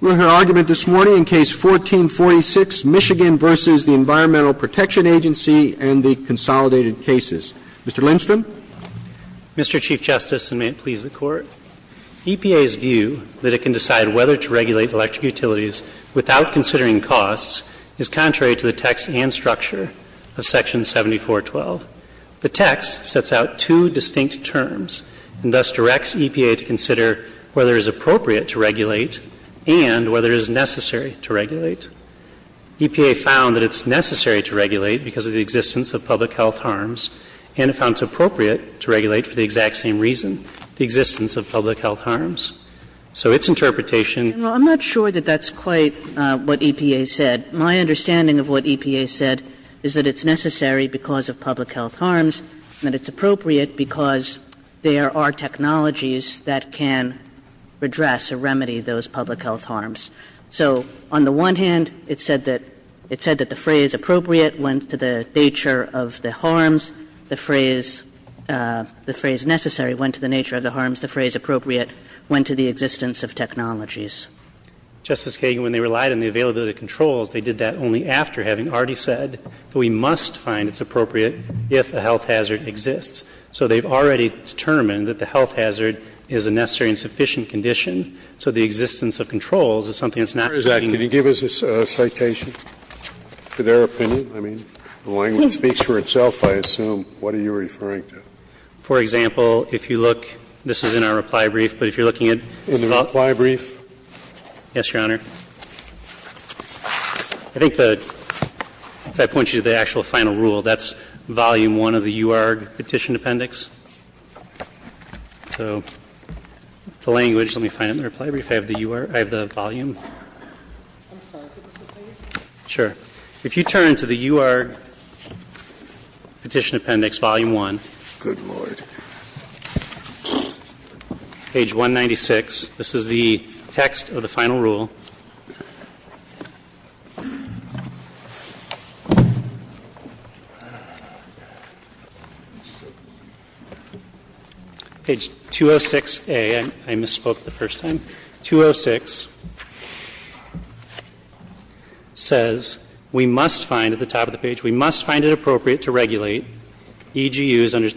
We'll hear argument this morning in Case 1446, Michigan v. Environmental Protection Agency and the Consolidated Cases. Mr. Lindstrom? Mr. Chief Justice, and may it please the Court, EPA's view that it can decide whether to regulate electric utilities without considering costs is contrary to the text and structure of Section 7412. The text sets out two distinct terms and thus directs EPA to consider whether it is appropriate to regulate and whether it is necessary to regulate. EPA found that it is necessary to regulate because of the existence of public health harms, and it found it appropriate to regulate for the exact same reason, the existence of public health harms. I'm not sure that that's quite what EPA said. My understanding of what EPA said is that it's necessary because of public health harms, and it's appropriate because there are technologies that can address or remedy those public health harms. So, on the one hand, it said that the phrase appropriate went to the nature of the harms, the phrase necessary went to the nature of the harms, the phrase appropriate went to the existence of technologies. Justice Kagan, when they relied on the availability of controls, they did that only after having already said, we must find it's appropriate if a health hazard exists. So they've already determined that the health hazard is a necessary and sufficient condition, so the existence of controls is something that's not to be— Did you give us a citation to their opinion? I mean, the language speaks for itself, I assume. What are you referring to? For example, if you look, this is in our reply brief, but if you're looking at— In the reply brief? Yes, Your Honor. I think the — if I point you to the actual final rule, that's volume one of the U.R. petition appendix. So, the language, let me find it in the reply brief, I have the U.R., I have the volume. I'm sorry, could you repeat it? Sure. If you turn to the U.R. petition appendix, volume one. Good Lord. Page 196, this is the text of the final rule. Page 206A, I misspoke the first time. 206 says, we must find at the top of the page, we must find it appropriate to regulate EGUs under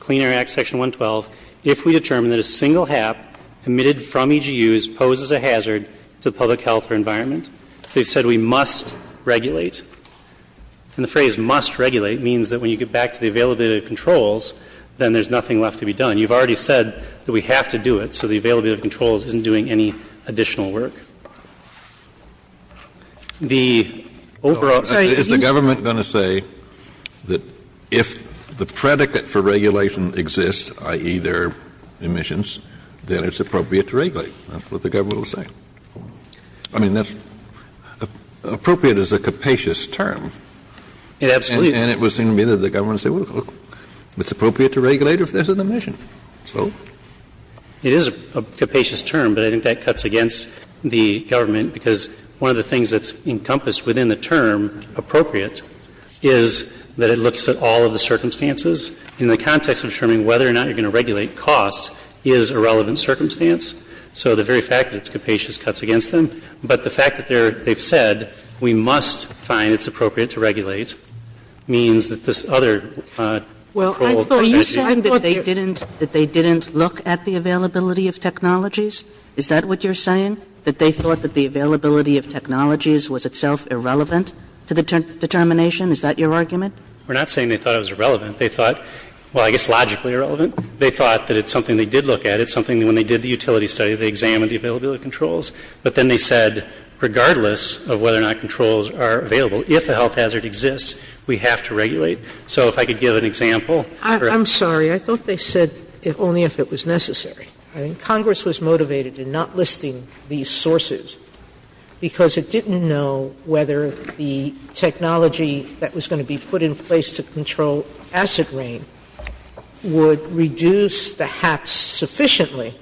Clean Air Act Section 112 if we determine that a single HAP emitted from EGUs poses a hazard to public health or environment. They've said we must regulate. And the phrase must regulate means that when you get back to the availability of controls, then there's nothing left to be done. You've already said that we have to do it, so the availability of controls isn't doing any additional work. The overall— Is the government going to say that if the predicate for regulation exists, i.e., their emissions, then it's appropriate to regulate? That's what the government will say. I mean, that's—appropriate is a capacious term. And it was in the end of the government's—it's appropriate to regulate if there's an emission. It is a capacious term, but I think that cuts against the government because one of the things that's encompassed within the term appropriate is that it looks at all of the circumstances in the context of determining whether or not you're going to regulate costs is a relevant circumstance. So the very fact that it's capacious cuts against them. But the fact that they've said we must find it's appropriate to regulate means that this other— Well, are you saying that they didn't look at the availability of technologies? Is that what you're saying? That they thought that the availability of technologies was itself irrelevant to the determination? Is that your argument? We're not saying they thought it was irrelevant. They thought—well, I guess logically irrelevant. They thought that it's something they did look at. It's something that when they did the utility study, they examined the availability of controls. But then they said regardless of whether or not controls are available, if a health hazard exists, we have to regulate. So if I could give an example. I'm sorry. I thought they said only if it was necessary. Congress was motivated in not listing these sources because it didn't know whether the technology that was going to be put in place to control acid rain would reduce the hacks sufficiently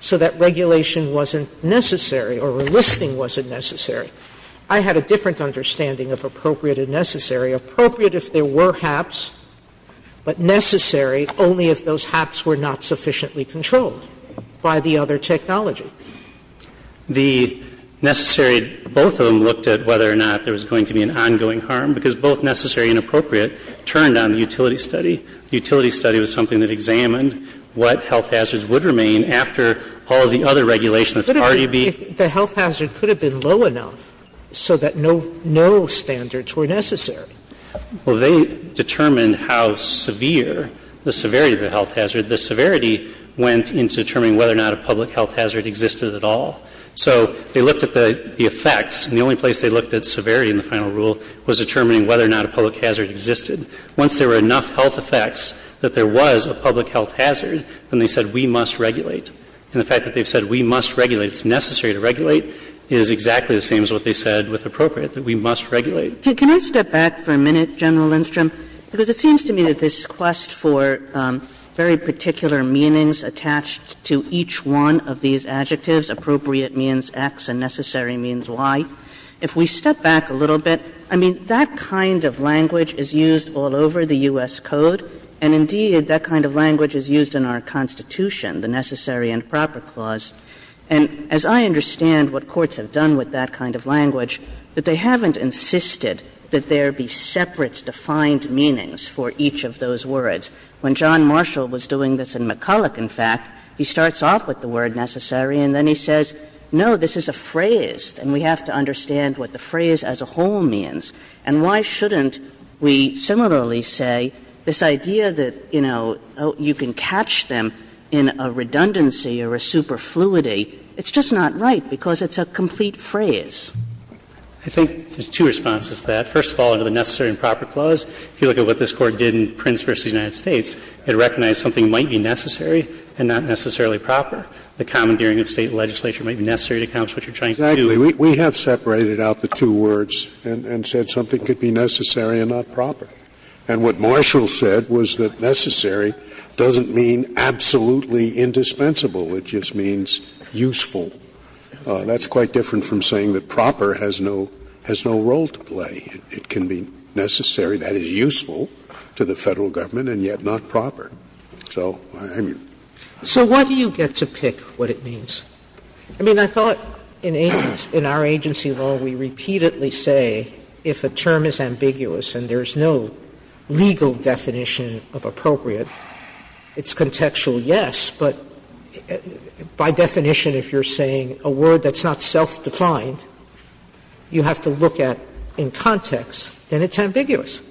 so that regulation wasn't necessary or listing wasn't necessary. I had a different understanding of appropriate and necessary. Appropriate if there were hacks, but necessary only if those hacks were not sufficiently controlled by the other technology. The necessary—both of them looked at whether or not there was going to be an ongoing harm because both necessary and appropriate turned on the utility study. The utility study was something that examined what health hazards would remain after all the other regulation that's already been— The health hazard could have been low enough so that no standards were necessary. Well, they determined how severe—the severity of the health hazard. The severity went into determining whether or not a public health hazard existed at all. So they looked at the effects, and the only place they looked at severity in the final rule was determining whether or not a public hazard existed. Once there were enough health effects that there was a public health hazard, then they said we must regulate. And the fact that they said we must regulate, it's necessary to regulate, is exactly the same as what they said with appropriate, that we must regulate. Can I step back for a minute, General Lindstrom? Because it seems to me that this quest for very particular meanings attached to each one of these adjectives, appropriate means X and necessary means Y, if we step back a little bit, I mean, that kind of language is used all over the U.S. Code, and indeed that kind of language is used in our Constitution, the Necessary and Proper Clause. And as I understand what courts have done with that kind of language, that they haven't insisted that there be separate defined meanings for each of those words. When John Marshall was doing this in McCulloch, in fact, he starts off with the word necessary, and then he says, no, this is a phrase, and we have to understand what the phrase as a whole means. And why shouldn't we similarly say this idea that, you know, you can catch them in a redundancy or a superfluity, it's just not right because it's a complete phrase? I think there's two responses to that. First of all, under the Necessary and Proper Clause, if you look at what this Court did in Prince v. United States, it recognized something might be necessary and not necessarily proper. The commandeering of State legislation might be necessary to accomplish what you're trying to do. Exactly. We have separated out the two words and said something could be necessary and not proper. And what Marshall said was that necessary doesn't mean absolutely indispensable. It just means useful. That's quite different from saying that proper has no role to play. It can be necessary, that is useful to the federal government, and yet not proper. So why do you get to pick what it means? I mean, I thought in our agency law we repeatedly say if a term is ambiguous and there's no legal definition of appropriate, it's contextual, yes, but by definition if you're saying a word that's not self-defined, you have to look at in context and it's ambiguous.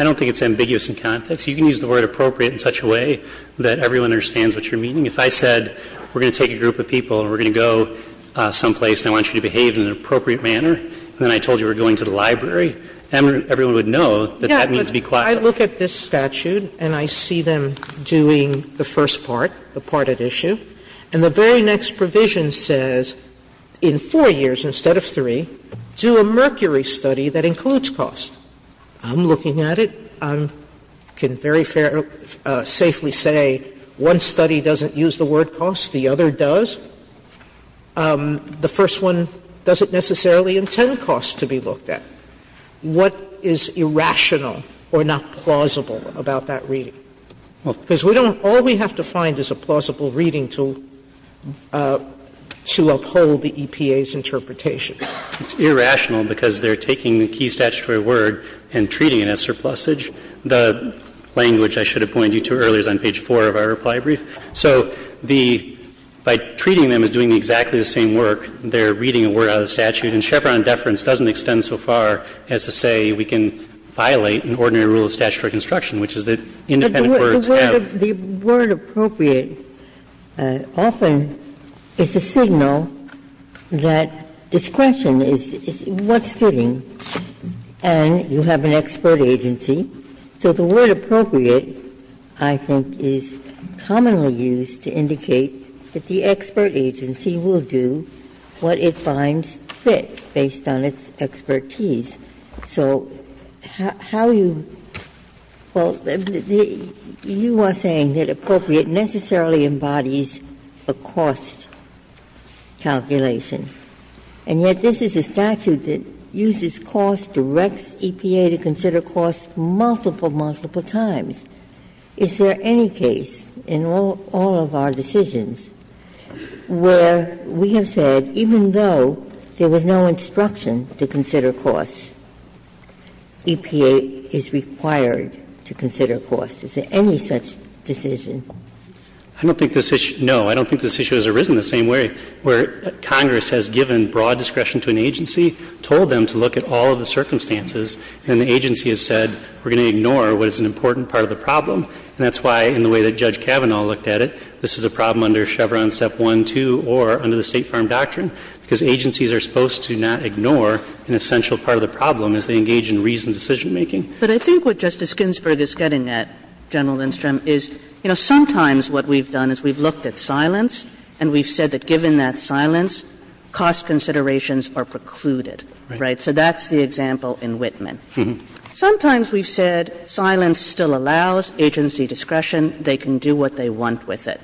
I don't think it's ambiguous in context. You can use the word appropriate in such a way that everyone understands what you're meaning. If I said we're going to take a group of people and we're going to go someplace and I want you to behave in an appropriate manner, and then I told you we're going to the library, everyone would know that that needs to be classified. So I look at this statute and I see them doing the first part, the part at issue, and the very next provision says in four years instead of three, do a mercury study that includes cost. I'm looking at it. I can very safely say one study doesn't use the word cost, the other does. The first one doesn't necessarily intend cost to be looked at. What is irrational or not plausible about that reading? Because all we have to find is a plausible reading to uphold the EPA's interpretation. It's irrational because they're taking the key statutory word and treating it as surplusage. The language I should have pointed you to earlier is on page four of our reply brief. So by treating them as doing exactly the same work, they're reading a word out of the statute, and Chevron deference doesn't extend so far as to say we can violate an ordinary rule of statutory construction, which is that independent words have to be used. But the word appropriate often is a signal that this question is what's fitting, and you have an expert agency, so the word appropriate, I think, is commonly used to indicate that the expert agency will do what it finds fit based on its expertise. So how you, well, you are saying that appropriate necessarily embodies a cost calculation, and yet this is a statute that uses cost to rec EPA to consider cost multiple, multiple times. Is there any case in all of our decisions where we have said even though there was no instruction to consider cost, EPA is required to consider cost? Is there any such decision? I don't think this issue, no, I don't think this issue has arisen the same way, where Congress has given broad discretion to an agency, told them to look at all of the circumstances, and the agency has said we're going to ignore what is an important part of the problem, and that's why in the way that Judge Kavanaugh looked at it, this is a problem under Chevron step one, two, or under the State Farm Doctrine, because agencies are supposed to not ignore an essential part of the problem as they engage in reasoned decision making. But I think what Justice Ginsburg is getting at, General Lindstrom, is sometimes what we've done is we've looked at silence, and we've said that given that silence, cost considerations are precluded, right? So that's the example in Whitman. Sometimes we've said silence still allows agency discretion. They can do what they want with it.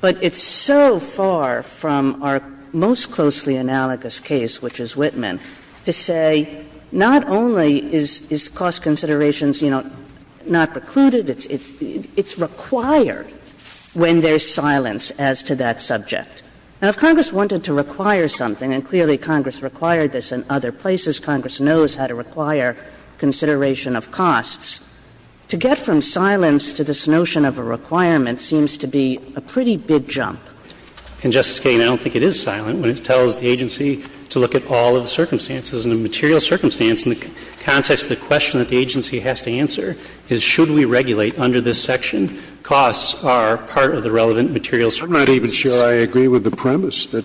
But it's so far from our most closely analogous case, which is Whitman, to say not only is cost considerations, you know, not precluded, it's required when there's silence as to that subject. Now, if Congress wanted to require something, and clearly Congress required this in other places, Congress knows how to require consideration of costs, to get from silence to this notion of a requirement seems to be a pretty big jump. And, Justice Kagan, I don't think it is silent when it tells the agency to look at all of the circumstances, and the material circumstance in the context of the question that the agency has to answer is should we regulate under this section? Costs are part of the relevant material circumstance. I'm not even sure I agree with the premise that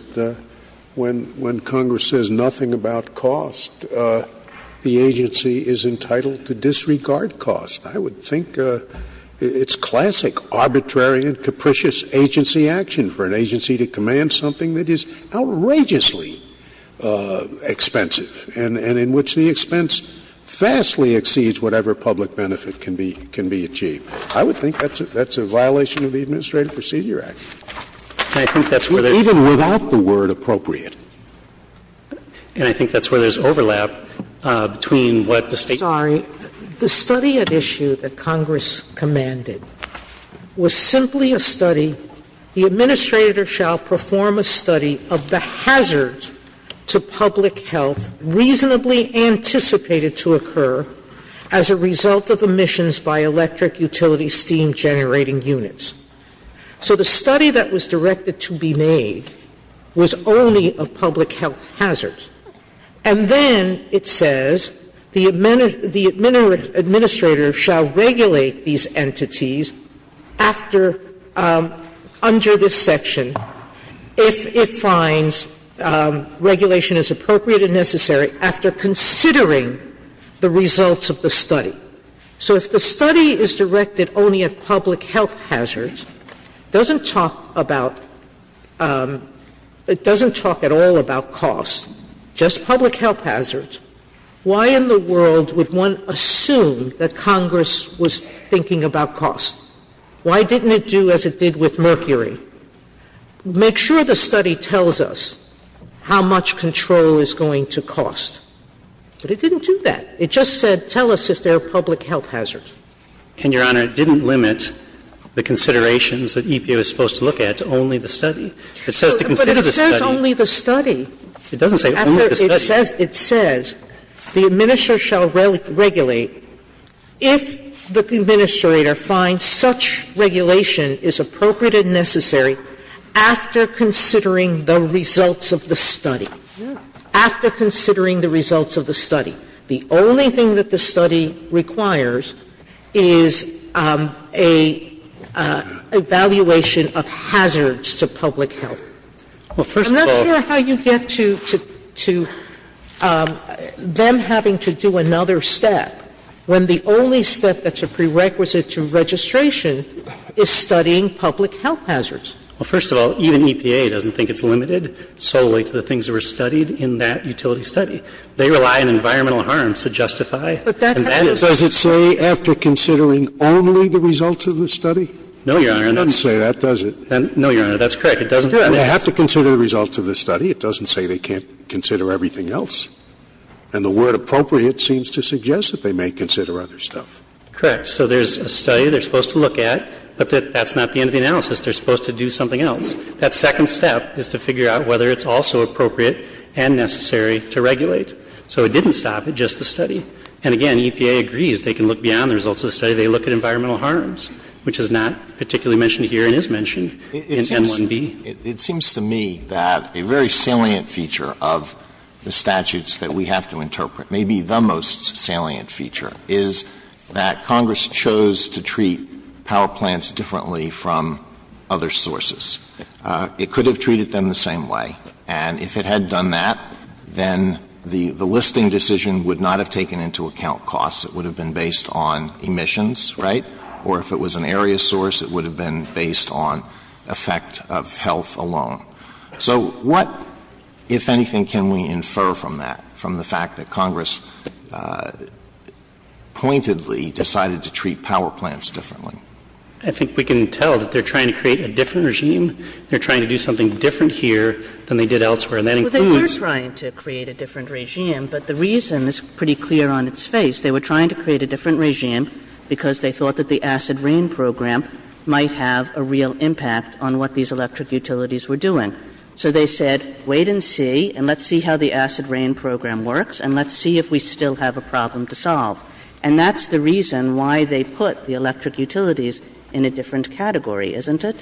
when Congress says nothing about cost, the agency is entitled to disregard cost. I would think it's classic arbitrary and capricious agency action for an agency to command something that is outrageously expensive, and in which the expense vastly exceeds whatever public benefit can be achieved. I would think that's a violation of the Administrative Procedure Act. Even without the word appropriate. And I think that's where there's overlap between what the state... Sorry. The study at issue that Congress commanded was simply a study, the administrator shall perform a study of the hazards to public health reasonably anticipated to occur as a result of emissions by electric, utility, steam generating units. So the study that was directed to be made was only of public health hazards. And then it says the administrator shall regulate these entities under this section if it finds regulation is appropriate and necessary after considering the results of the study. So if the study is directed only at public health hazards, it doesn't talk at all about cost. Just public health hazards. Why in the world would one assume that Congress was thinking about cost? Why didn't it do as it did with mercury? Make sure the study tells us how much control is going to cost. But it didn't do that. It just said tell us if there are public health hazards. And, Your Honor, it didn't limit the considerations that EPA was supposed to look at, only the study. But it says only the study. It doesn't say only the study. It says the administrator shall regulate if the administrator finds such regulation is appropriate and necessary after considering the results of the study. After considering the results of the study. The only thing that the study requires is an evaluation of hazards to public health. I'm not sure how you get to them having to do another step when the only step that's a prerequisite to registration is studying public health hazards. Well, first of all, even EPA doesn't think it's limited solely to the things that were studied in that utility study. They rely on environmental harms to justify. Does it say after considering only the results of the study? No, Your Honor. It doesn't say that, does it? No, Your Honor, that's correct. They have to consider the results of the study. It doesn't say they can't consider everything else. And the word appropriate seems to suggest that they may consider other stuff. Correct. So there's a study they're supposed to look at, but that's not the end of the analysis. They're supposed to do something else. That second step is to figure out whether it's also appropriate and necessary to regulate. So it didn't stop at just the study. And, again, EPA agrees they can look beyond the results of the study. They look at environmental harms, which is not particularly mentioned here and is mentioned in M1B. It seems to me that a very salient feature of the statutes that we have to interpret, maybe the most salient feature, is that Congress chose to treat power plants differently from other sources. It could have treated them the same way. And if it had done that, then the listing decision would not have taken into account costs. It would have been based on emissions, right? Or if it was an area source, it would have been based on effect of health alone. So what, if anything, can we infer from that, from the fact that Congress pointedly decided to treat power plants differently? I think we can tell that they're trying to create a different regime. They're trying to do something different here than they did elsewhere. Well, they were trying to create a different regime, but the reason is pretty clear on its face. They were trying to create a different regime because they thought that the acid rain program might have a real impact on what these electric utilities were doing. So they said, wait and see, and let's see how the acid rain program works, and let's see if we still have a problem to solve. And that's the reason why they put the electric utilities in a different category, isn't it?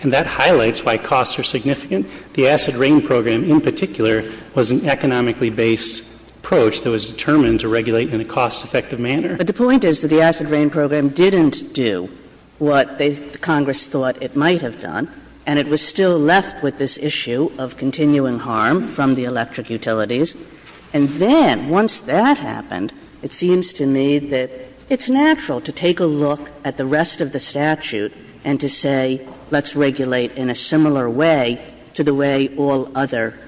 And that highlights why costs are significant. The acid rain program, in particular, was an economically based approach that was determined to regulate in a cost-effective manner. But the point is that the acid rain program didn't do what Congress thought it might have done, and it was still left with this issue of continuing harm from the electric utilities. And then, once that happened, it seems to me that it's natural to take a look at the rest of the statute and to say, let's regulate in a similar way to the way all other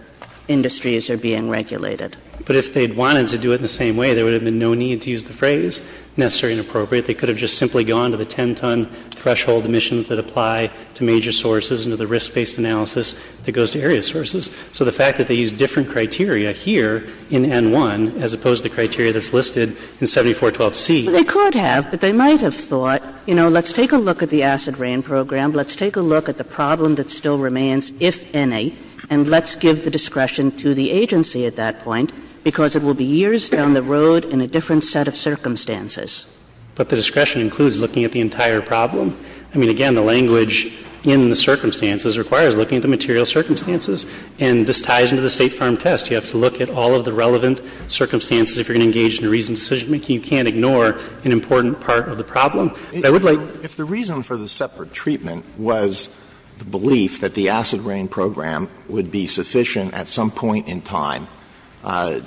industries are being regulated. But if they wanted to do it in the same way, there would have been no need to use the phrase necessary and appropriate. They could have just simply gone to the 10-ton threshold emissions that apply to major sources and to the risk-based analysis that goes to area sources. So the fact that they use different criteria here in N1 as opposed to criteria that's listed in 7412C. They could have, but they might have thought, you know, let's take a look at the acid rain program, let's take a look at the problem that still remains, if any, and let's give the discretion to the agency at that point, because it will be years down the road in a different set of circumstances. But the discretion includes looking at the entire problem? I mean, again, the language in the circumstances requires looking at the material circumstances. And this ties into the State Farm Test. You have to look at all of the relevant circumstances if you're going to engage in a reasoned decision-making. You can't ignore an important part of the problem. If the reason for the separate treatment was the belief that the acid rain program would be sufficient at some point in time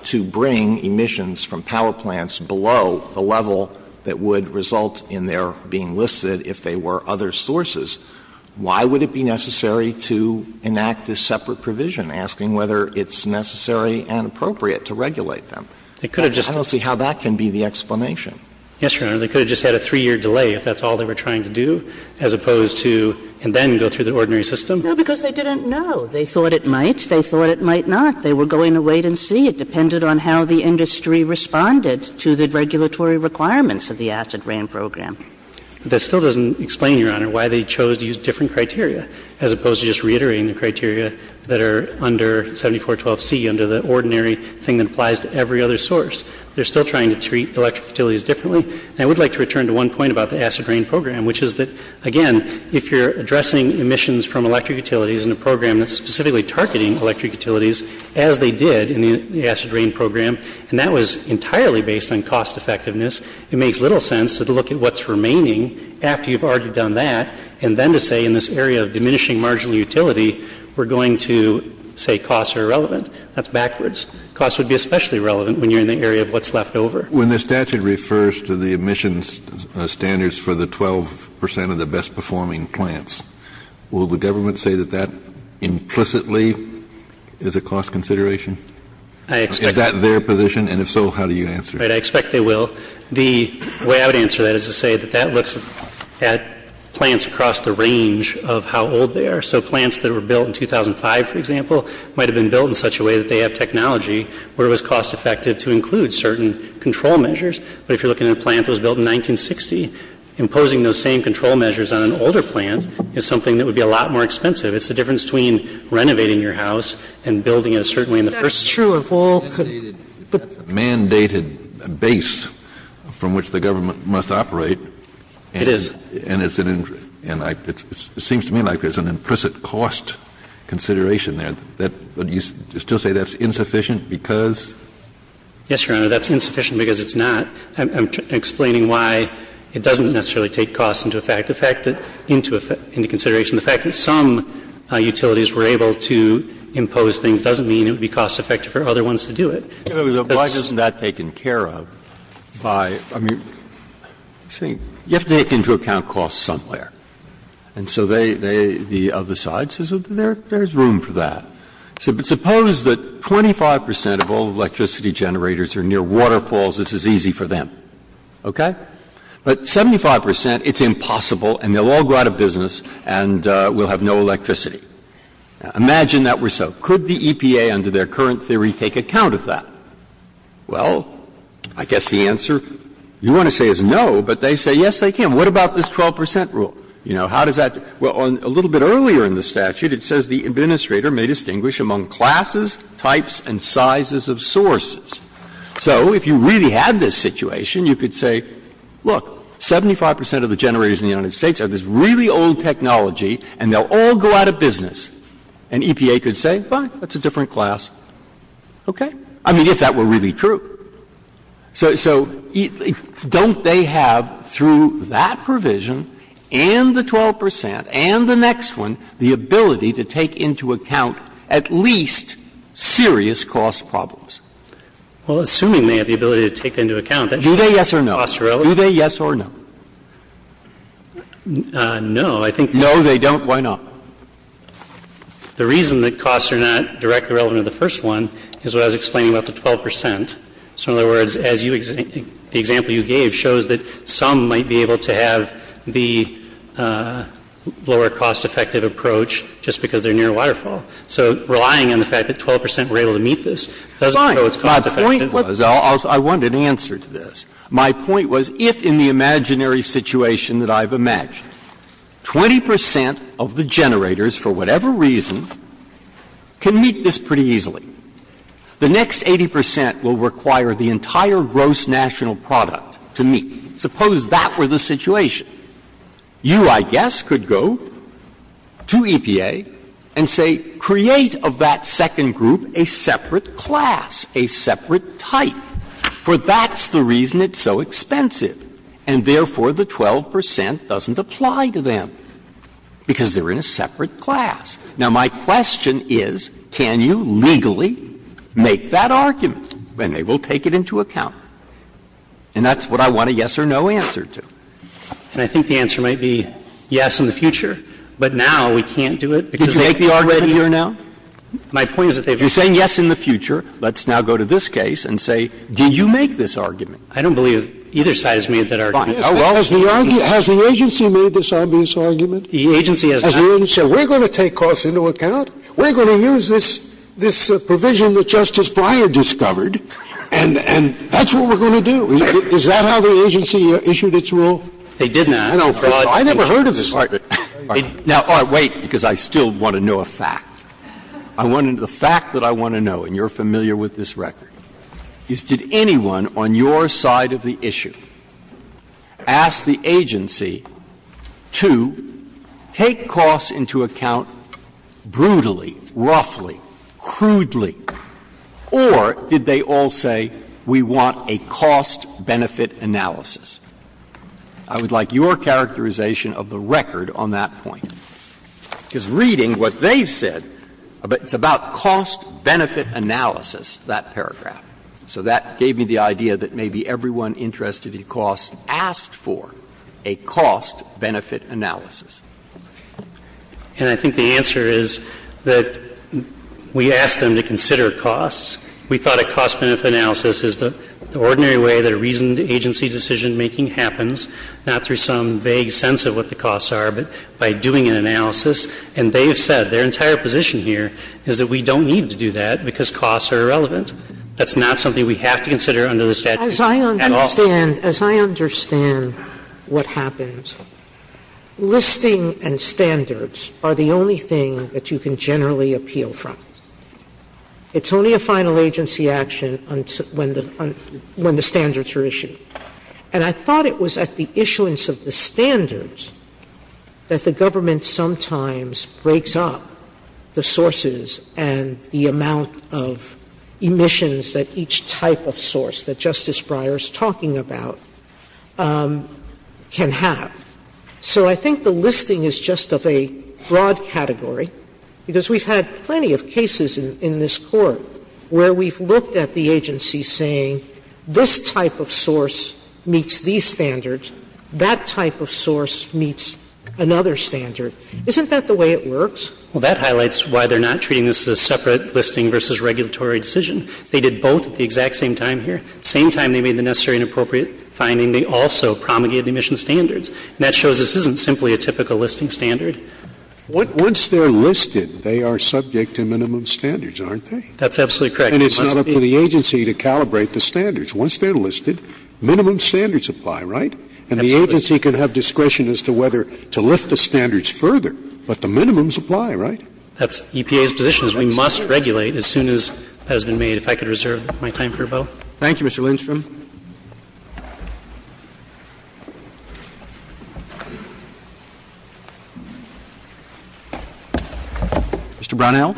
to bring emissions from power plants below a level that would result in their being listed if they were other sources, why would it be necessary to enact this separate provision, asking whether it's necessary and appropriate to regulate them? I don't see how that can be the explanation. Yes, Your Honor. They could have just had a three-year delay if that's all they were trying to do, as opposed to, and then go through the ordinary system? No, because they didn't know. They thought it might. They thought it might not. They were going to wait and see. It depended on how the industry responded to the regulatory requirements of the acid rain program. That still doesn't explain, Your Honor, why they chose to use different criteria, as opposed to just reiterating the criteria that are under 7412C, under the ordinary thing that applies to every other source. They're still trying to treat electric utilities differently. And I would like to return to one point about the acid rain program, which is that, again, if you're addressing emissions from electric utilities in a program that's specifically targeting electric utilities, as they did in the acid rain program, and that was entirely based on cost effectiveness, it makes little sense to look at what's remaining after you've already done that, and then to say in this area of diminishing marginal utility, we're going to say costs are irrelevant. That's backwards. Costs would be especially relevant when you're in the area of what's left over. When the statute refers to the emissions standards for the 12 percent of the best-performing plants, will the government say that that implicitly is a cost consideration? Is that their position? And if so, how do you answer? I expect they will. The way I would answer that is to say that that looks at plants across the range of how old they are. So plants that were built in 2005, for example, might have been built in such a way that they have technology where it was cost-effective to include certain control measures. But if you're looking at a plant that was built in 1960, imposing those same control measures on an older plant is something that would be a lot more expensive. It's the difference between renovating your house and building it, certainly, in the first two or four. It's a mandated base from which the government must operate. It is. And it seems to me like there's an implicit cost consideration there. Do you still say that's insufficient because? Yes, Your Honor, that's insufficient because it's not. I'm explaining why it doesn't necessarily take costs into consideration. The fact that some utilities were able to impose things doesn't mean it would be cost-effective for other ones to do it. Why isn't that taken care of? You have to take into account costs somewhere. And so the other side says there's room for that. Suppose that 25% of all electricity generators are near waterfalls. This is easy for them. But 75%, it's impossible, and they'll all go out of business, and we'll have no electricity. Imagine that were so. Could the EPA, under their current theory, take account of that? Well, I guess the answer you want to say is no, but they say yes they can. What about this 12% rule? A little bit earlier in the statute, it says the administrator may distinguish among classes, types, and sizes of sources. So if you really had this situation, you could say, look, 75% of the generators in the United States have this really old technology, and they'll all go out of business. And EPA could say, fine, that's a different class. Okay? I mean, if that were really true. So don't they have, through that provision and the 12% and the next one, the ability to take into account at least serious cost problems? Well, assuming they have the ability to take that into account, do they? Yes or no? Do they? Yes or no? No, I think. No, they don't. Why not? The reason that costs are not directly relevant to the first one is what I was explaining about the 12%. So in other words, the example you gave shows that some might be able to have the lower cost effective approach just because they're near a waterfall. So relying on the fact that 12% were able to meet this doesn't show it's cost effective. Fine. My point was, I wanted an answer to this. My point was, if in the imaginary situation that I've imagined, 20% of the generators, for whatever reason, can meet this pretty easily, the next 80% will require the entire gross national product to meet. Suppose that were the situation. You, I guess, could go to EPA and say, create of that second group a separate class, a separate type. For that's the reason it's so expensive. And therefore, the 12% doesn't apply to them because they're in a separate class. Now, my question is, can you legally make that argument? And they will take it into account. And that's what I want a yes or no answer to. And I think the answer might be yes in the future. But now we can't do it. Did you make the argument here now? My point is, if you're saying yes in the future, let's now go to this case and say, do you make this argument? I don't believe either side has made that argument. Well, has the agency made this obvious argument? The agency has not. Has the agency said, we're going to take costs into account. We're going to use this provision that Justice Breyer discovered. And that's what we're going to do. Is that how the agency issued its rule? It didn't. I never heard of this argument. Now, wait, because I still want to know a fact. The fact that I want to know, and you're familiar with this record, is did anyone on your side of the issue ask the agency to take costs into account brutally, roughly, crudely? Or did they all say, we want a cost-benefit analysis? I would like your characterization of the record on that point. Because reading what they said, it's about cost-benefit analysis, that paragraph. So that gave me the idea that maybe everyone interested in costs asked for a cost-benefit analysis. And I think the answer is that we asked them to consider costs. We thought a cost-benefit analysis is the ordinary way that a reasoned agency decision-making happens, not through some vague sense of what the costs are, but by doing an analysis. And they have said their entire position here is that we don't need to do that because costs are irrelevant. That's not something we have to consider under the statute at all. As I understand what happens, listing and standards are the only thing that you can generally appeal from. It's only a final agency action when the standards are issued. And I thought it was at the issuance of the standards that the government sometimes breaks up the sources and the amount of emissions that each type of source that Justice Breyer is talking about can have. So I think the listing is just of a broad category because we've had plenty of cases in this court where we've looked at the agency saying this type of source meets these standards. That type of source meets another standard. Isn't that the way it works? Well, that highlights why they're not treating this as a separate listing versus regulatory decision. They did both at the exact same time here. At the same time they made the necessary and appropriate finding, they also promulgated emission standards. And that shows this isn't simply a typical listing standard. Once they're listed, they are subject to minimum standards, aren't they? That's absolutely correct. And it's not up to the agency to calibrate the standards. Once they're listed, minimum standards apply, right? And the agency can have discretion as to whether to lift the standards further, but the minimums apply, right? That's EPA's position is we must regulate as soon as that has been made. If I could reserve my time for a vote. Thank you, Mr. Lindstrom. Mr. Brownell.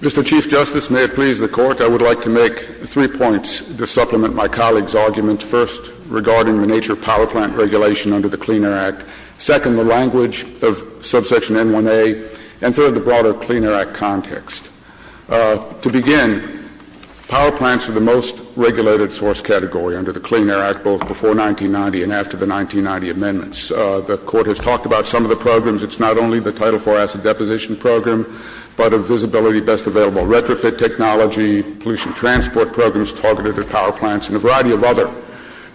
Mr. Chief Justice, may it please the Court, I would like to make three points to supplement my colleague's arguments. First, regarding the nature of power plant regulation under the Clean Air Act. Second, the language of Subsection N1A. And third, the broader Clean Air Act context. To begin, power plants are the most regulated source category under the Clean Air Act, both before 1990 and after the 1990 amendments. The Court has talked about some of the programs. It's not only the Title IV acid deposition program, but a visibility best available retrofit technology, pollution transport programs targeted at power plants, and a variety of other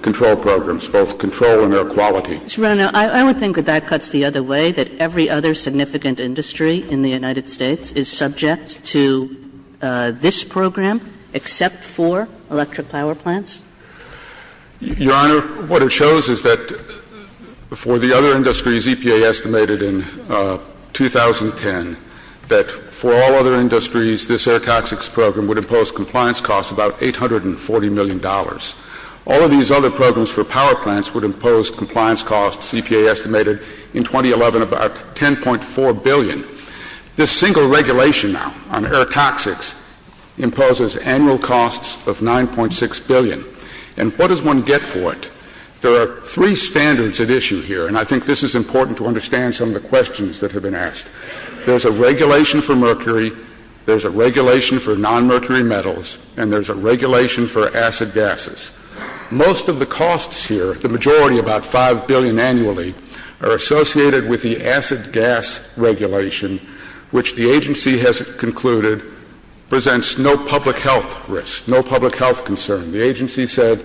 control programs, both control and air quality. Mr. Brownell, I would think that that cuts the other way, that every other significant industry in the United States is subject to this program except for electric power plants. Your Honor, what it shows is that for the other industries, EPA estimated in 2010 that for all other industries, this air toxics program would impose compliance costs about $840 million. All of these other programs for power plants would impose compliance costs, EPA estimated, in 2011 about $10.4 billion. This single regulation now on air toxics imposes annual costs of $9.6 billion. And what does one get for it? There are three standards at issue here, and I think this is important to understand some of the questions that have been asked. There's a regulation for mercury, there's a regulation for nonmercury metals, and there's a regulation for acid gases. Most of the costs here, the majority, about $5 billion annually, are associated with the acid gas regulation, which the agency has concluded presents no public health risk, no public health concern. The agency said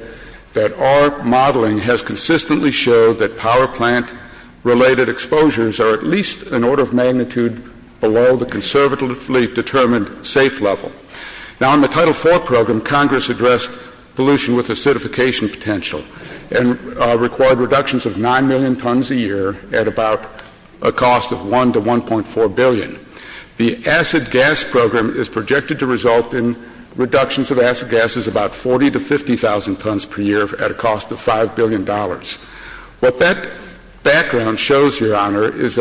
that our modeling has consistently showed that power plant-related exposures are at least an order of magnitude below the conservatively determined safe level. Now, in the Title IV program, Congress addressed pollution with acidification potential and required reductions of 9 million tons a year at about a cost of $1 to $1.4 billion. The acid gas program is projected to result in reductions of acid gases about 40,000 to 50,000 tons per year at a cost of $5 billion. What that background shows, Your Honor, is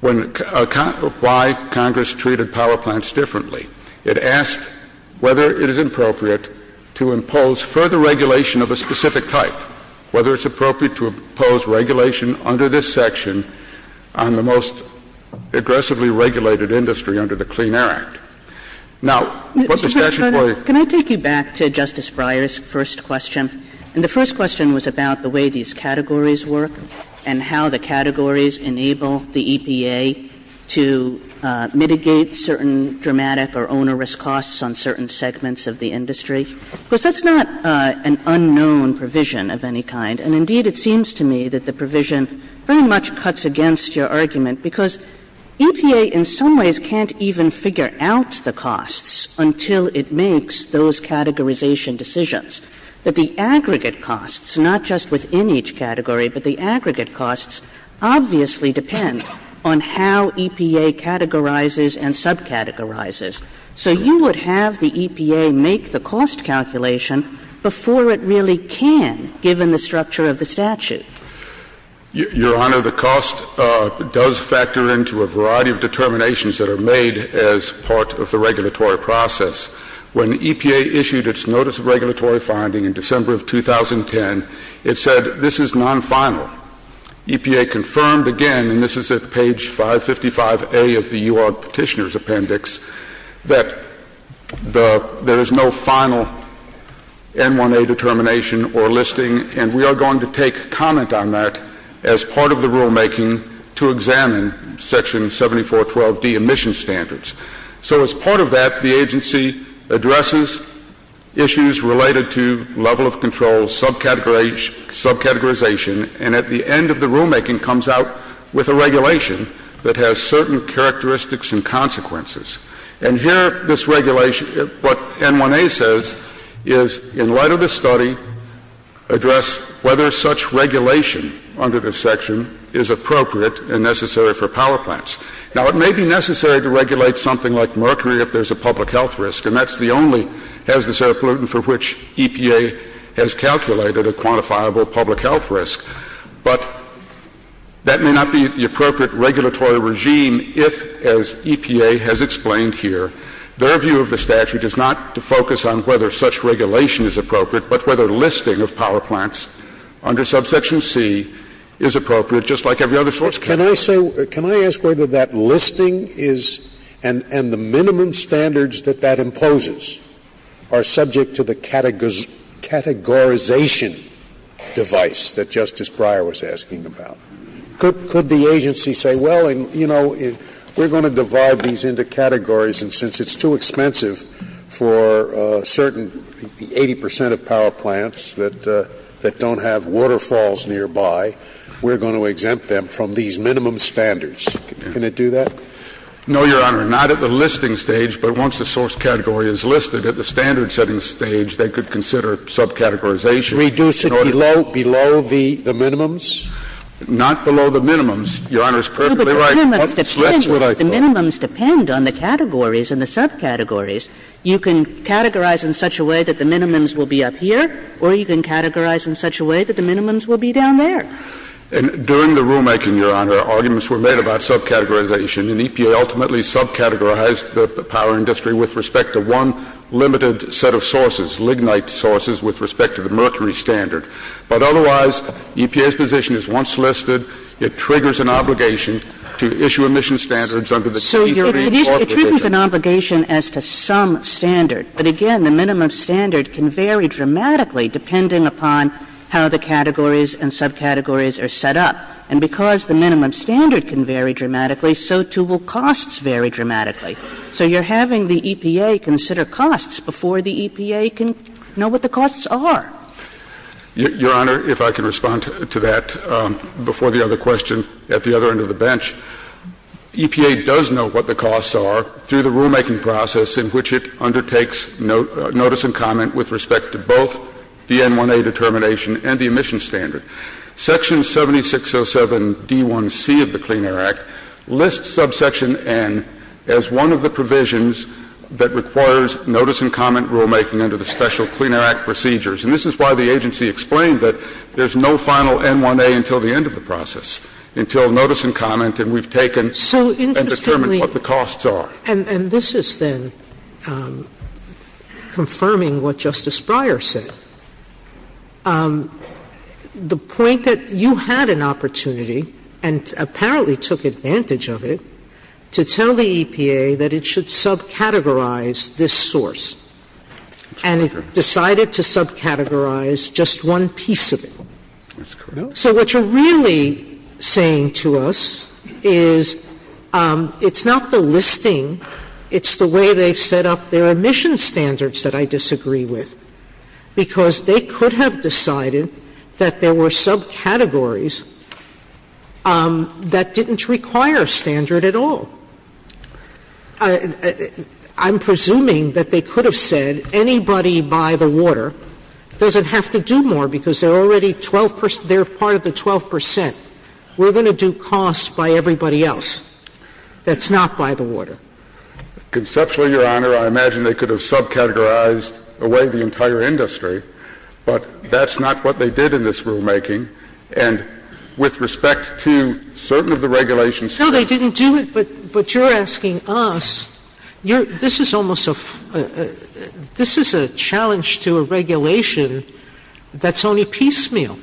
why Congress treated power plants differently. It asked whether it is appropriate to impose further regulation of a specific type, whether it's appropriate to impose regulation under this section on the most aggressively regulated industry under the Clean Air Act. Now, what the statute was- Can I take you back to Justice Breyer's first question? And the first question was about the way these categories work and how the categories enable the EPA to mitigate certain dramatic or onerous costs on certain segments of the industry. Because that's not an unknown provision of any kind, and indeed it seems to me that the provision very much cuts against your argument because EPA in some ways can't even figure out the costs until it makes those categorization decisions. But the aggregate costs, not just within each category, but the aggregate costs obviously depend on how EPA categorizes and subcategorizes. So you would have the EPA make the cost calculation before it really can, given the structure of the statute. Your Honor, the cost does factor into a variety of determinations that are made as part of the regulatory process. When EPA issued its notice of regulatory finding in December of 2010, it said this is non-final. EPA confirmed again, and this is at page 555A of the U.R. Petitioner's Appendix, that there is no final N1A determination or listing, and we are going to take comment on that as part of the rulemaking to examine Section 7412B emission standards. So as part of that, the agency addresses issues related to level of control, subcategorization, and at the end of the rulemaking comes out with a regulation that has certain characteristics and consequences. And here this regulation, what N1A says is, in light of the study, address whether such regulation under this section is appropriate and necessary for power plants. Now, it may be necessary to regulate something like mercury if there's a public health risk, and that's the only hazardous air pollutant for which EPA has calculated a quantifiable public health risk. But that may not be the appropriate regulatory regime if, as EPA has explained here, their view of the statute is not to focus on whether such regulation is appropriate, but whether listing of power plants under Subsection C is appropriate, just like every other source can. Can I ask whether that listing is, and the minimum standards that that imposes, are subject to the categorization device that Justice Breyer was asking about? Could the agency say, well, you know, we're going to divide these into categories, and since it's too expensive for certain 80 percent of power plants that don't have waterfalls nearby, we're going to exempt them from these minimum standards. Can it do that? No, Your Honor, not at the listing stage. But once the source category is listed at the standard setting stage, they could consider subcategorization. They should reduce it below the minimums? Not below the minimums. Your Honor is perfectly right. The minimums depend on the categories and the subcategories. You can categorize in such a way that the minimums will be up here, or you can categorize in such a way that the minimums will be down there. During the rulemaking, Your Honor, arguments were made about subcategorization, and EPA ultimately subcategorized the power industry with respect to one limited set of sources, lignite sources, with respect to the mercury standard. But otherwise, EPA's position is once listed, it triggers an obligation to issue emission standards under the subcategory. So it triggers an obligation as to some standard, but again, the minimum standard can vary dramatically depending upon how the categories and subcategories are set up. And because the minimum standard can vary dramatically, so too will costs vary dramatically. So you're having the EPA consider costs before the EPA can know what the costs are. Your Honor, if I could respond to that before the other question at the other end of the bench. EPA does know what the costs are through the rulemaking process in which it undertakes notice and comment with respect to both the N1A determination and the emission standard. Section 7607D1C of the Clean Air Act lists subsection N as one of the provisions that requires notice and comment rulemaking under the special Clean Air Act procedures. And this is why the agency explained that there's no final N1A until the end of the process, until notice and comment, and we've taken and determined what the costs are. And this is then confirming what Justice Breyer said. The point that you had an opportunity and apparently took advantage of it to tell the EPA that it should subcategorize this source and decided to subcategorize just one piece of it. So what you're really saying to us is it's not the listing, it's the way they've set up their emission standards that I disagree with. Because they could have decided that there were subcategories that didn't require a standard at all. I'm presuming that they could have said anybody by the water doesn't have to do more because they're already part of the 12 percent. We're going to do costs by everybody else. That's not by the water. Conceptually, Your Honor, I imagine they could have subcategorized away the entire industry, but that's not what they did in this rulemaking. And with respect to certain of the regulations... No, they didn't do it, but you're asking us. This is a challenge to a regulation that's only piecemeal.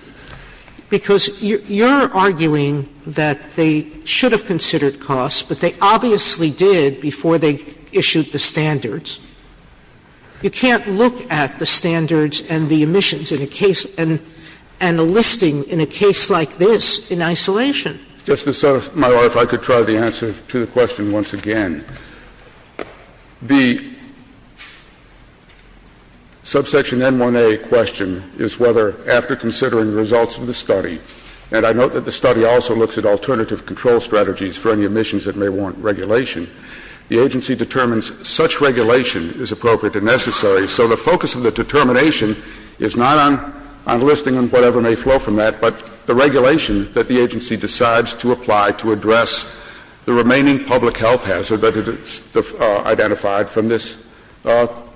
Because you're arguing that they should have considered costs, but they obviously did before they issued the standards. You can't look at the standards and the emissions and a listing in a case like this in isolation. Justice Sotomayor, if I could try the answer to the question once again. The subsection M1A question is whether after considering the results of the study, and I note that the study also looks at alternative control strategies for any emissions that may warrant regulation, the agency determines such regulation is appropriate and necessary. So the focus of the determination is not on listing and whatever may flow from that, but the regulation that the agency decides to apply to address the remaining public health hazard that is identified from this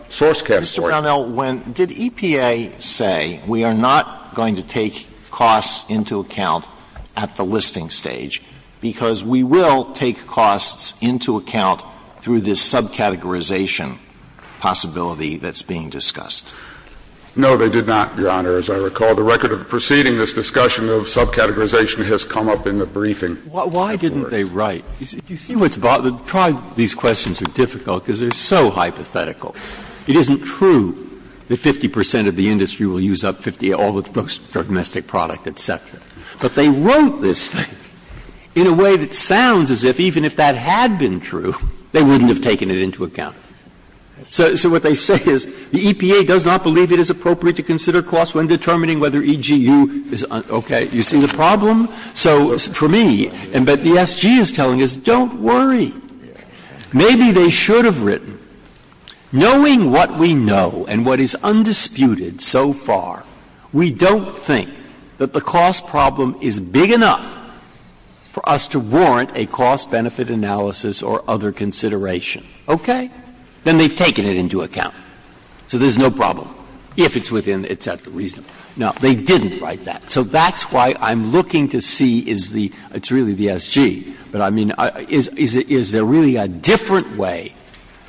source category. Mr. Brownell, did EPA say we are not going to take costs into account at the listing stage, because we will take costs into account through this subcategorization possibility that's being discussed? No, they did not, Your Honor, as I recall. The record of preceding this discussion of subcategorization has come up in the briefing. Why didn't they write? You see what's wrong? These questions are difficult because they're so hypothetical. It isn't true that 50 percent of the industry will use up all of those domestic products, et cetera. But they wrote this thing in a way that sounds as if even if that had been true, they wouldn't have taken it into account. So what they say is the EPA does not believe it is appropriate to consider costs when determining whether EGU is okay. You see the problem? So for me, and what the SG is telling us, don't worry. Maybe they should have written. Knowing what we know and what is undisputed so far, we don't think that the cost problem is big enough for us to warrant a cost benefit analysis or other consideration. Okay? Then they've taken it into account. So there's no problem. If it's within, it's at the reasonable. No, they didn't write that. So that's why I'm looking to see is the, it's really the SG, but I mean is there really a different way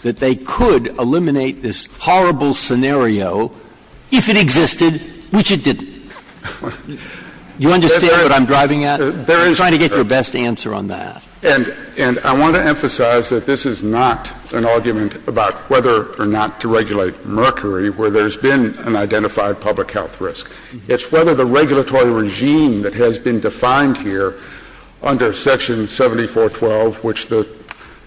that they could eliminate this horrible scenario if it existed, which it didn't? Do you understand what I'm driving at? I'm trying to get your best answer on that. And I want to emphasize that this is not an argument about whether or not to regulate mercury where there's been an identified public health risk. It's whether the regulatory regime that has been defined here under Section 7412, which the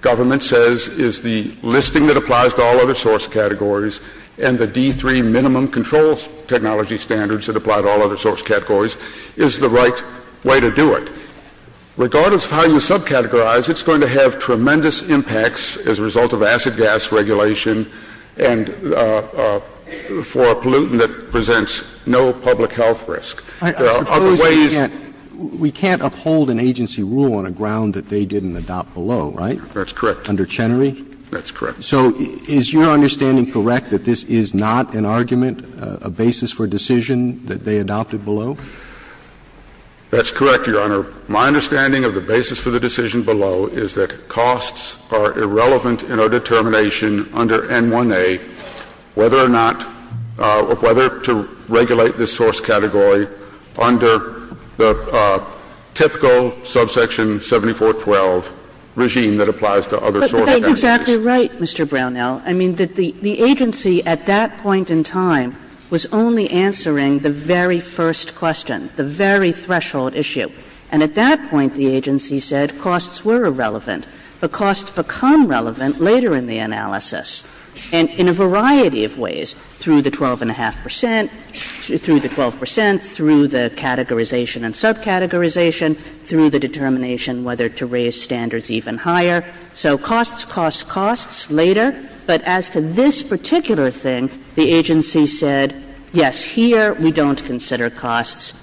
government says is the listing that applies to all other source categories and the D3 minimum control technology standards that apply to all other source categories, is the right way to do it. Regardless of how you subcategorize, it's going to have tremendous impacts as a result of acid gas regulation and for a pollutant that presents no public health risk. We can't uphold an agency rule on a ground that they didn't adopt below, right? That's correct. Under Chenery? That's correct. So is your understanding correct that this is not an argument, a basis for decision that they adopted below? That's correct, Your Honor. My understanding of the basis for the decision below is that costs are irrelevant in our determination under M1A whether or not to regulate this source category under the typical subsection 7412 regime that applies to other source categories. But they're exactly right, Mr. Brownell. I mean, the agency at that point in time was only answering the very first question, the very threshold issue. And at that point, the agency said costs were irrelevant. But costs become relevant later in the analysis and in a variety of ways, through the 12.5 percent, through the 12 percent, through the categorization and subcategorization, through the determination whether to raise standards even higher. So costs, costs, costs later. But as to this particular thing, the agency said, yes, here we don't consider costs.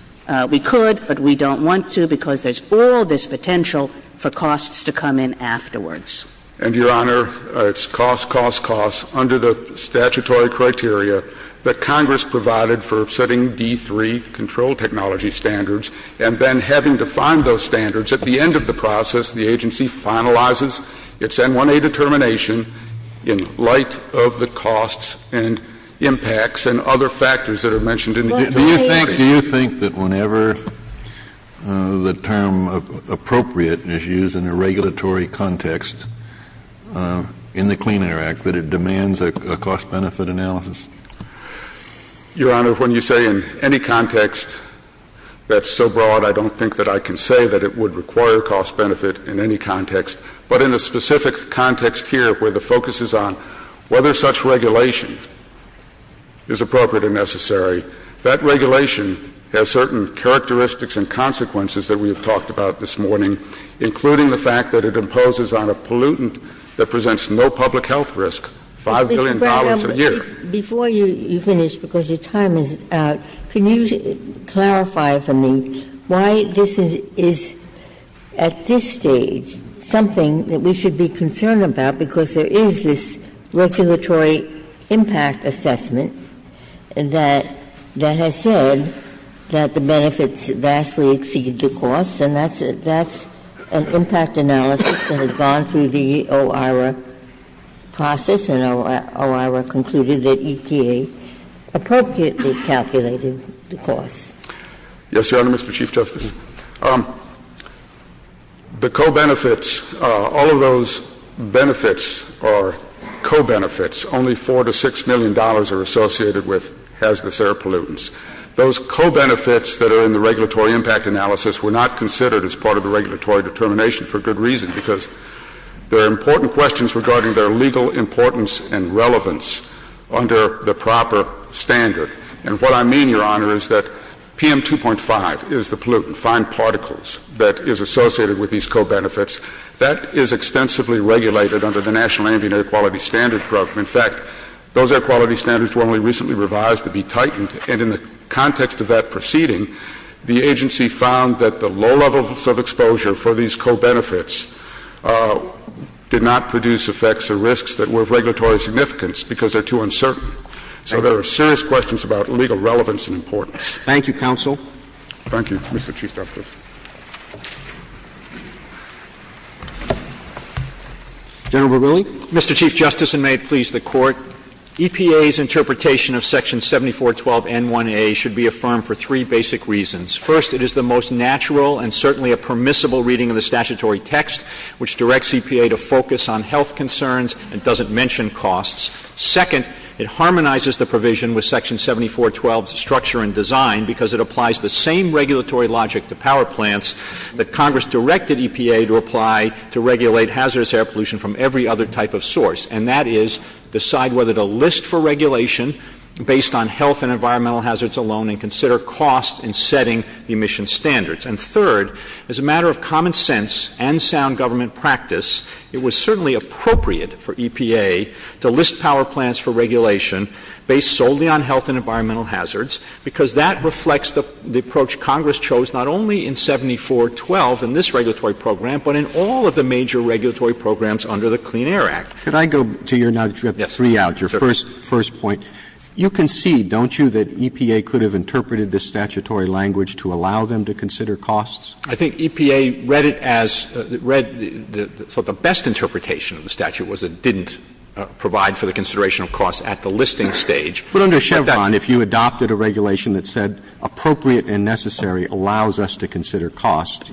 We could, but we don't want to because there's all this potential for costs to come in afterwards. And, Your Honor, it's costs, costs, costs under the statutory criteria that Congress provided for setting D3 control technology standards and then having to find those standards. At the end of the process, the agency finalizes its M1A determination in light of the costs and impacts and other factors that are mentioned. Do you think that whenever the term appropriate is used in a regulatory context in the Clean Air Act that it demands a cost-benefit analysis? Your Honor, when you say in any context that's so broad, I don't think that I can say that it would require cost-benefit in any context. But in the specific context here where the focus is on whether such regulation is appropriate or necessary, that regulation has certain characteristics and consequences that we have talked about this morning, including the fact that it imposes on a pollutant that presents no public health risk $5 billion a year. Before you finish, because your time is up, can you clarify for me why this is, at this stage, something that we should be concerned about because there is this regulatory impact assessment that has said that the benefits vastly exceed the costs, and that's an impact analysis that has gone through the OIRA process and OIRA concluded that EPA appropriately calculated the cost. Yes, Your Honor, Mr. Chief Justice. The co-benefits, all of those benefits are co-benefits. Only $4 million to $6 million are associated with hazardous air pollutants. Those co-benefits that are in the regulatory impact analysis were not considered as part of the regulatory determination for good reason because they're important questions regarding their legal importance and relevance under the proper standard. And what I mean, Your Honor, is that PM2.5 is the pollutant, fine particles that is associated with these co-benefits. That is extensively regulated under the National Indian Air Quality Standards Program. In fact, those air quality standards were only recently revised to be tightened, and in the context of that proceeding, the agency found that the low levels of exposure for these co-benefits did not produce effects or risks that were of regulatory significance because they're too uncertain. So there are serious questions about legal relevance and importance. Thank you, counsel. Thank you, Mr. Chief Justice. Mr. Chief Justice, and may it please the Court, EPA's interpretation of Section 7412N1A should be affirmed for three basic reasons. First, it is the most natural and certainly a permissible reading of the statutory text, which directs EPA to focus on health concerns and doesn't mention costs. Second, it harmonizes the provision with Section 7412's structure and design because it applies the same regulatory logic to power plants that Congress directed EPA to apply to regulate hazardous air pollution from every other type of source, and that is decide whether to list for regulation based on health and environmental hazards alone and consider costs in setting emission standards. And third, as a matter of common sense and sound government practice, it was certainly appropriate for EPA to list power plants for regulation based solely on health and environmental hazards because that reflects the approach Congress chose not only in 7412 in this regulatory program, but in all of the major regulatory programs under the Clean Air Act. Could I go to your three arguments, your first point? You concede, don't you, that EPA could have interpreted this statutory language to allow them to consider costs? I think EPA read it as the best interpretation of the statute was it didn't provide for the consideration of costs at the listing stage. But under Chevron, if you adopted a regulation that said appropriate and necessary allows us to consider costs,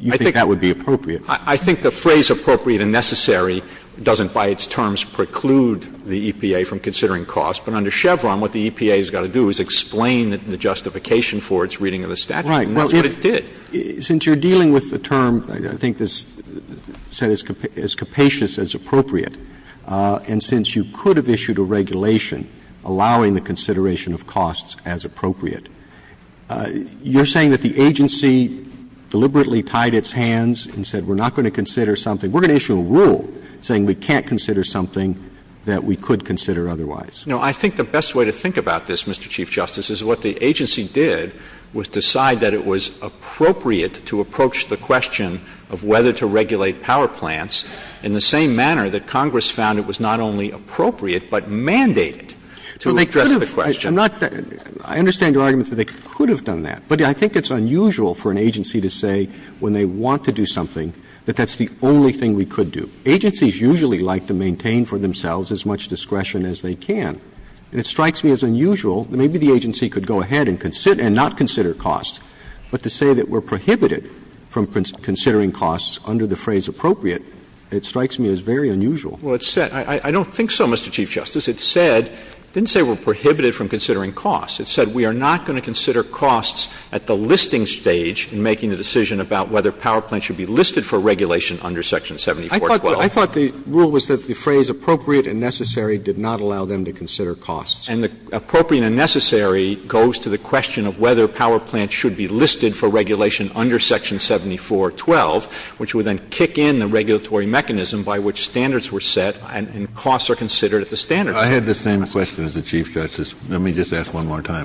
you think that would be appropriate? I think the phrase appropriate and necessary doesn't, by its terms, preclude the EPA from considering costs, but under Chevron what the EPA has got to do is explain the justification for its reading of the statute. That's what it did. Since you're dealing with the term, I think it's said as capacious as appropriate, and since you could have issued a regulation allowing the consideration of costs as appropriate, you're saying that the agency deliberately tied its hands and said we're not going to consider something, we're going to issue a rule saying we can't consider something that we could consider otherwise. No, I think the best way to think about this, Mr. Chief Justice, is what the agency did was decide that it was appropriate to approach the question of whether to regulate power plants in the same manner that Congress found it was not only appropriate, but mandated to address the question. I understand your argument that they could have done that, but I think it's unusual for an agency to say when they want to do something that that's the only thing we could do. Agencies usually like to maintain for themselves as much discretion as they can, and it strikes me as unusual that maybe the agency could go ahead and not consider costs, but to say that we're prohibited from considering costs under the phrase appropriate, it strikes me as very unusual. Well, I don't think so, Mr. Chief Justice. It didn't say we're prohibited from considering costs. It said we are not going to consider costs at the listing stage in making the decision about whether power plants should be listed for regulation under Section 7412. I thought the rule was that the phrase appropriate and necessary did not allow them to consider costs. And the appropriate and necessary goes to the question of whether power plants should be listed for regulation under Section 7412, which would then kick in the regulatory mechanism by which standards were set and costs are considered at the standard. I had the same question as the Chief Justice. Let me just ask one more time.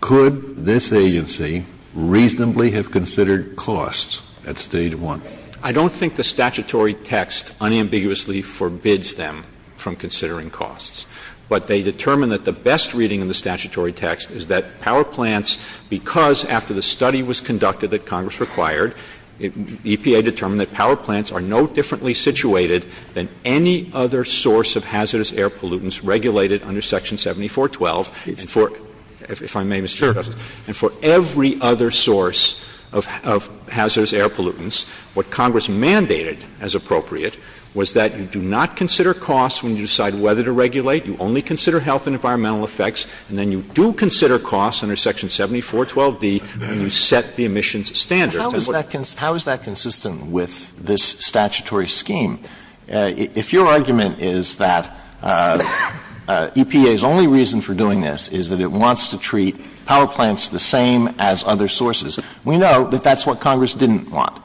Could this agency reasonably have considered costs at Stage 1? I don't think the statutory text unambiguously forbids them from considering costs, but they determined that the best reading of the statutory text is that power plants, because after the study was conducted that Congress required, EPA determined that power plants are no differently situated than any other source of hazardous air pollutants regulated under Section 7412 and for every other source of hazardous air pollutants. What Congress mandated as appropriate was that you do not consider costs when you decide whether to regulate. You only consider health and environmental effects, and then you do consider costs under Section 7412B when you set the emissions standard. How is that consistent with this statutory scheme? If your argument is that EPA's only reason for doing this is that it wants to treat power plants the same as other sources, we know that that's what Congress didn't want,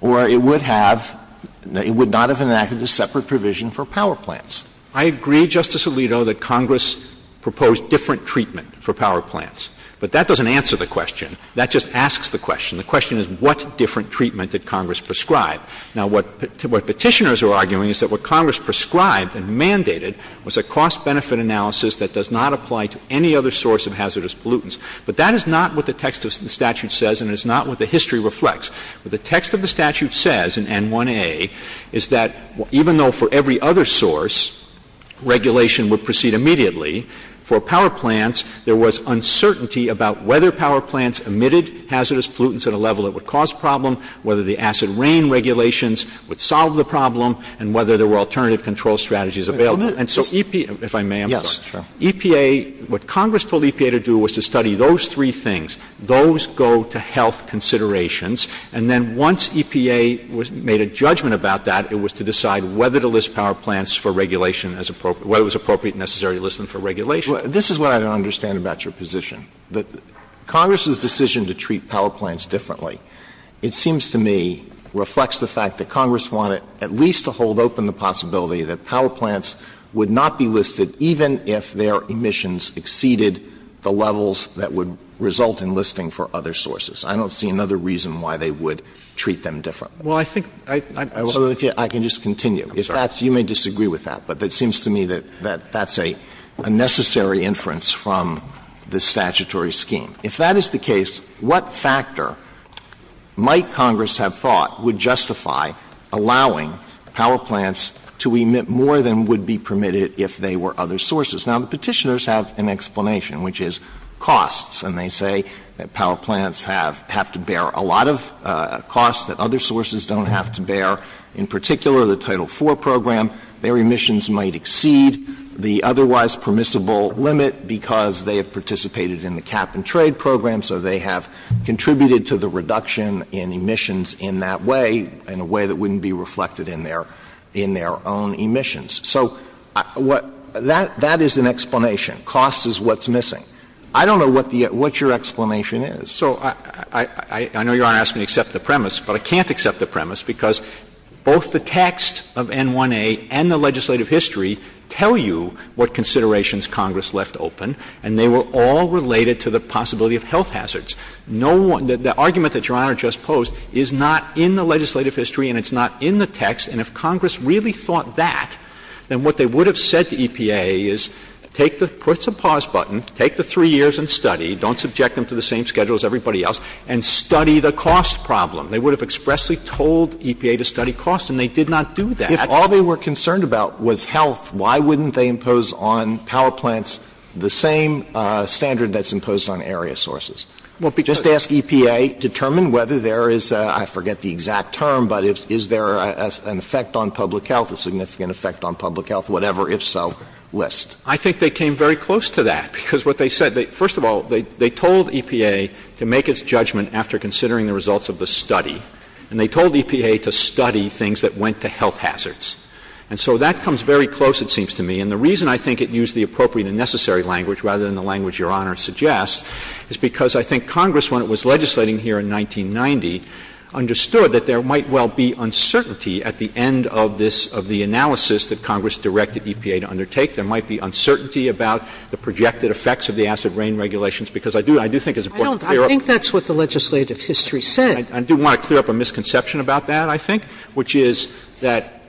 or it would not have enacted a separate provision for power plants. I agree, Justice Alito, that Congress proposed different treatment for power plants, but that doesn't answer the question. That just asks the question. The question is what different treatment did Congress prescribe? Now, what petitioners are arguing is that what Congress prescribed and mandated was a cost-benefit analysis that does not apply to any other source of hazardous pollutants, but that is not what the text of the statute says, and it is not what the history reflects. What the text of the statute says in N1A is that even though for every other source, regulation would proceed immediately, for power plants, there was uncertainty about whether power plants emitted hazardous pollutants at a level that would cause problems, whether the acid rain regulations would solve the problem, and whether there were alternative control strategies available. If I may, I'm sorry. Yes, sure. EPA, what Congress told EPA to do was to study those three things. Those go to health considerations, and then once EPA made a judgment about that, it was to decide whether to list power plants for regulation as appropriate, whether it was appropriate and necessary to list them for regulation. This is what I don't understand about your position, that Congress's decision to treat power plants differently, it seems to me, reflects the fact that Congress wanted at least to hold open the possibility that power plants would not be listed even if their emissions exceeded the levels that would result in listing for other sources. I don't see another reason why they would treat them differently. Well, I think— So if you—I can just continue. If that's—you may disagree with that, but it seems to me that that's a necessary inference from the statutory scheme. If that is the case, what factor might Congress have thought would justify allowing power plants to emit more than would be permitted if they were other sources? Now, the petitioners have an explanation, which is costs, and they say that power plants have to bear a lot of costs that other sources don't have to bear. In particular, the Title IV program, their emissions might exceed the otherwise permissible limit because they have participated in the cap-and-trade program, so they have contributed to the reduction in emissions in that way, in a way that wouldn't be reflected in their own emissions. So that is an explanation. Cost is what's missing. I don't know what your explanation is. So I know you're going to ask me to accept the premise, but I can't accept the premise because both the text of N1A and the legislative history tell you what considerations Congress left open, and they were all related to the possibility of health hazards. No one—the argument that Your Honor just posed is not in the legislative history and it's not in the text, and if Congress really thought that, then what they would have said to EPA is, take the—put the pause button, take the three years and study, don't subject them to the same schedule as everybody else, and study the cost problem. They would have expressly told EPA to study cost, and they did not do that. If all they were concerned about was health, why wouldn't they impose on power plants the same standard that's imposed on area sources? Just ask EPA, determine whether there is a—I forget the exact term, but is there an effect on public health, a significant effect on public health, whatever, if so, list. I think they came very close to that because what they said— after considering the results of the study, and they told EPA to study things that went to health hazards. And so that comes very close, it seems to me, and the reason I think it used the appropriate and necessary language rather than the language Your Honor suggests is because I think Congress, when it was legislating here in 1990, understood that there might well be uncertainty at the end of this—of the analysis that Congress directed EPA to undertake. There might be uncertainty about the projected effects of the acid rain regulations because I do—I do think it's important to clear up— I think that's what the legislative history said. I do want to clear up a misconception about that, I think, which is that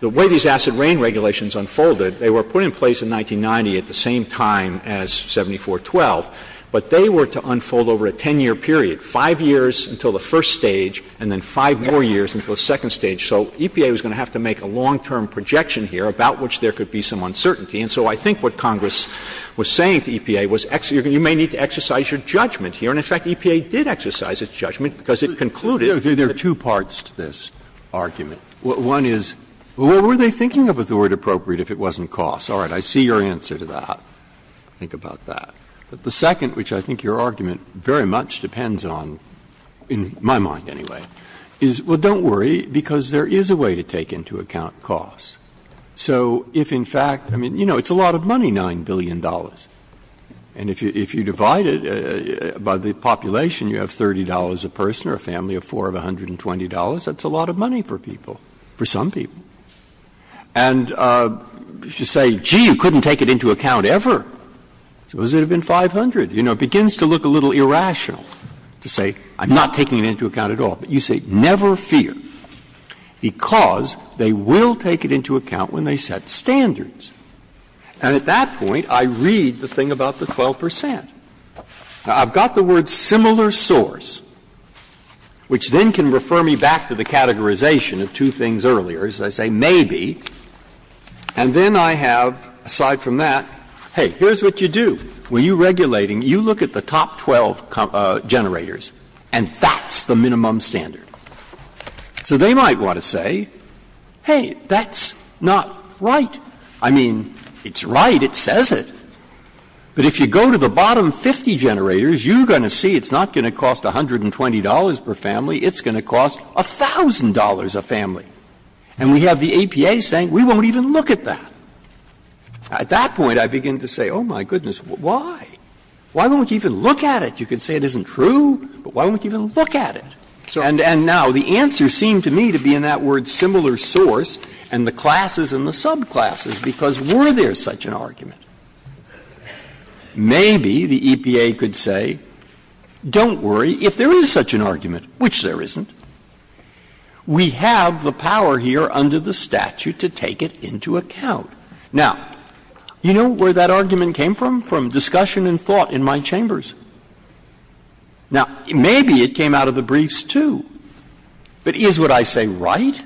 the way these acid rain regulations unfolded, they were put in place in 1990 at the same time as 74-12, but they were to unfold over a 10-year period, five years until the first stage and then five more years until the second stage. So EPA was going to have to make a long-term projection here about which there could be some uncertainty. And so I think what Congress was saying to EPA was you may need to exercise your judgment here. And, in fact, EPA did exercise its judgment because it concluded— There are two parts to this argument. One is, well, what were they thinking of with the word appropriate if it wasn't cost? All right, I see your answer to that. Think about that. But the second, which I think your argument very much depends on, in my mind anyway, is, well, don't worry, because there is a way to take into account cost. So if, in fact—I mean, you know, it's a lot of money, $9 billion. And if you divide it by the population, you have $30 a person or a family of four of $120. That's a lot of money for people, for some people. And you should say, gee, you couldn't take it into account ever. It would have been $500. You know, it begins to look a little irrational to say, I'm not taking it into account at all. But you say, never fear, because they will take it into account when they set standards. And at that point, I read the thing about the 12%. Now, I've got the word similar source, which then can refer me back to the categorization of two things earlier. As I say, maybe. And then I have, aside from that, hey, here's what you do. When you're regulating, you look at the top 12 generators, and that's the minimum standard. So they might want to say, hey, that's not right. I mean, it's right. It says it. But if you go to the bottom 50 generators, you're going to see it's not going to cost $120 per family. It's going to cost $1,000 a family. And we have the APA saying, we won't even look at that. At that point, I begin to say, oh, my goodness, why? Why won't you even look at it? You could say it isn't true, but why won't you even look at it? And now the answer seemed to me to be in that word similar source and the classes and the subclasses, because were there such an argument? Maybe the EPA could say, don't worry. If there is such an argument, which there isn't, we have the power here under the statute to take it into account. Now, you know where that argument came from? From discussion and thought in my chambers. Now, maybe it came out of the briefs too. But is what I say right?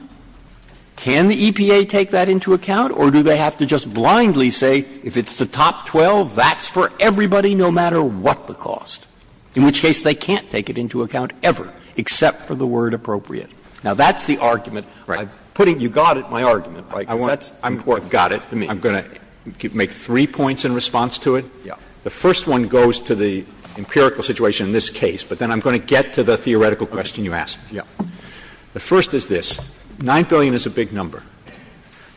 Can the EPA take that into account? Or do they have to just blindly say, if it's the top 12, that's for everybody no matter what the cost? In which case, they can't take it into account ever, except for the word appropriate. Now, that's the argument. You got it, my argument. I got it. I'm going to make three points in response to it. The first one goes to the empirical situation in this case, but then I'm going to get to the theoretical question you asked. The first is this. $9 billion is a big number.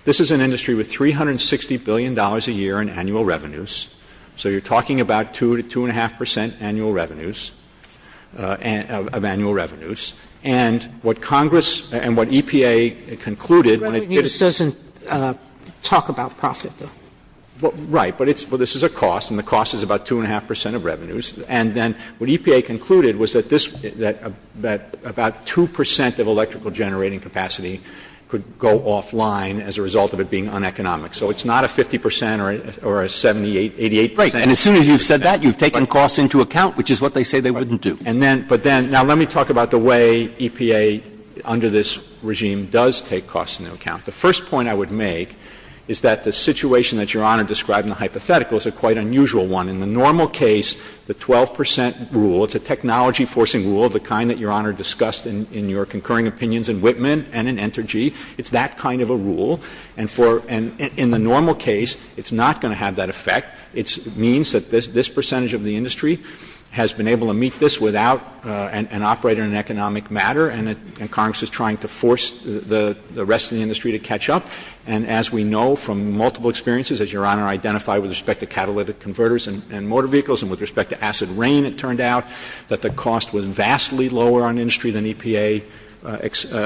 This is an industry with $360 billion a year in annual revenues. So you're talking about 2 to 2.5% annual revenues, of annual revenues. And what Congress and what EPA concluded, Revenue doesn't talk about profit. Right. But this is a cost, and the cost is about 2.5% of revenues. And then what EPA concluded was that about 2% of electrical generating capacity could go offline as a result of it being uneconomic. So it's not a 50% or a 78%, 88%. Right, and as soon as you've said that, you've taken costs into account, which is what they say they wouldn't do. But then, now let me talk about the way EPA, under this regime, does take costs into account. The first point I would make is that the situation that you're on in describing the hypothetical is a quite unusual one. In the normal case, the 12% rule, it's a technology-forcing rule, the kind that Your Honor discussed in your concurring opinions in Whitman and in Entergy. It's that kind of a rule. And in the normal case, it's not going to have that effect. It means that this percentage of the industry has been able to meet this without an operator in an economic matter, and Congress is trying to force the rest of the industry to catch up. And as we know from multiple experiences, as Your Honor identified with respect to catalytic converters and motor vehicles and with respect to acid rain, it turned out that the cost was vastly lower on industry than EPA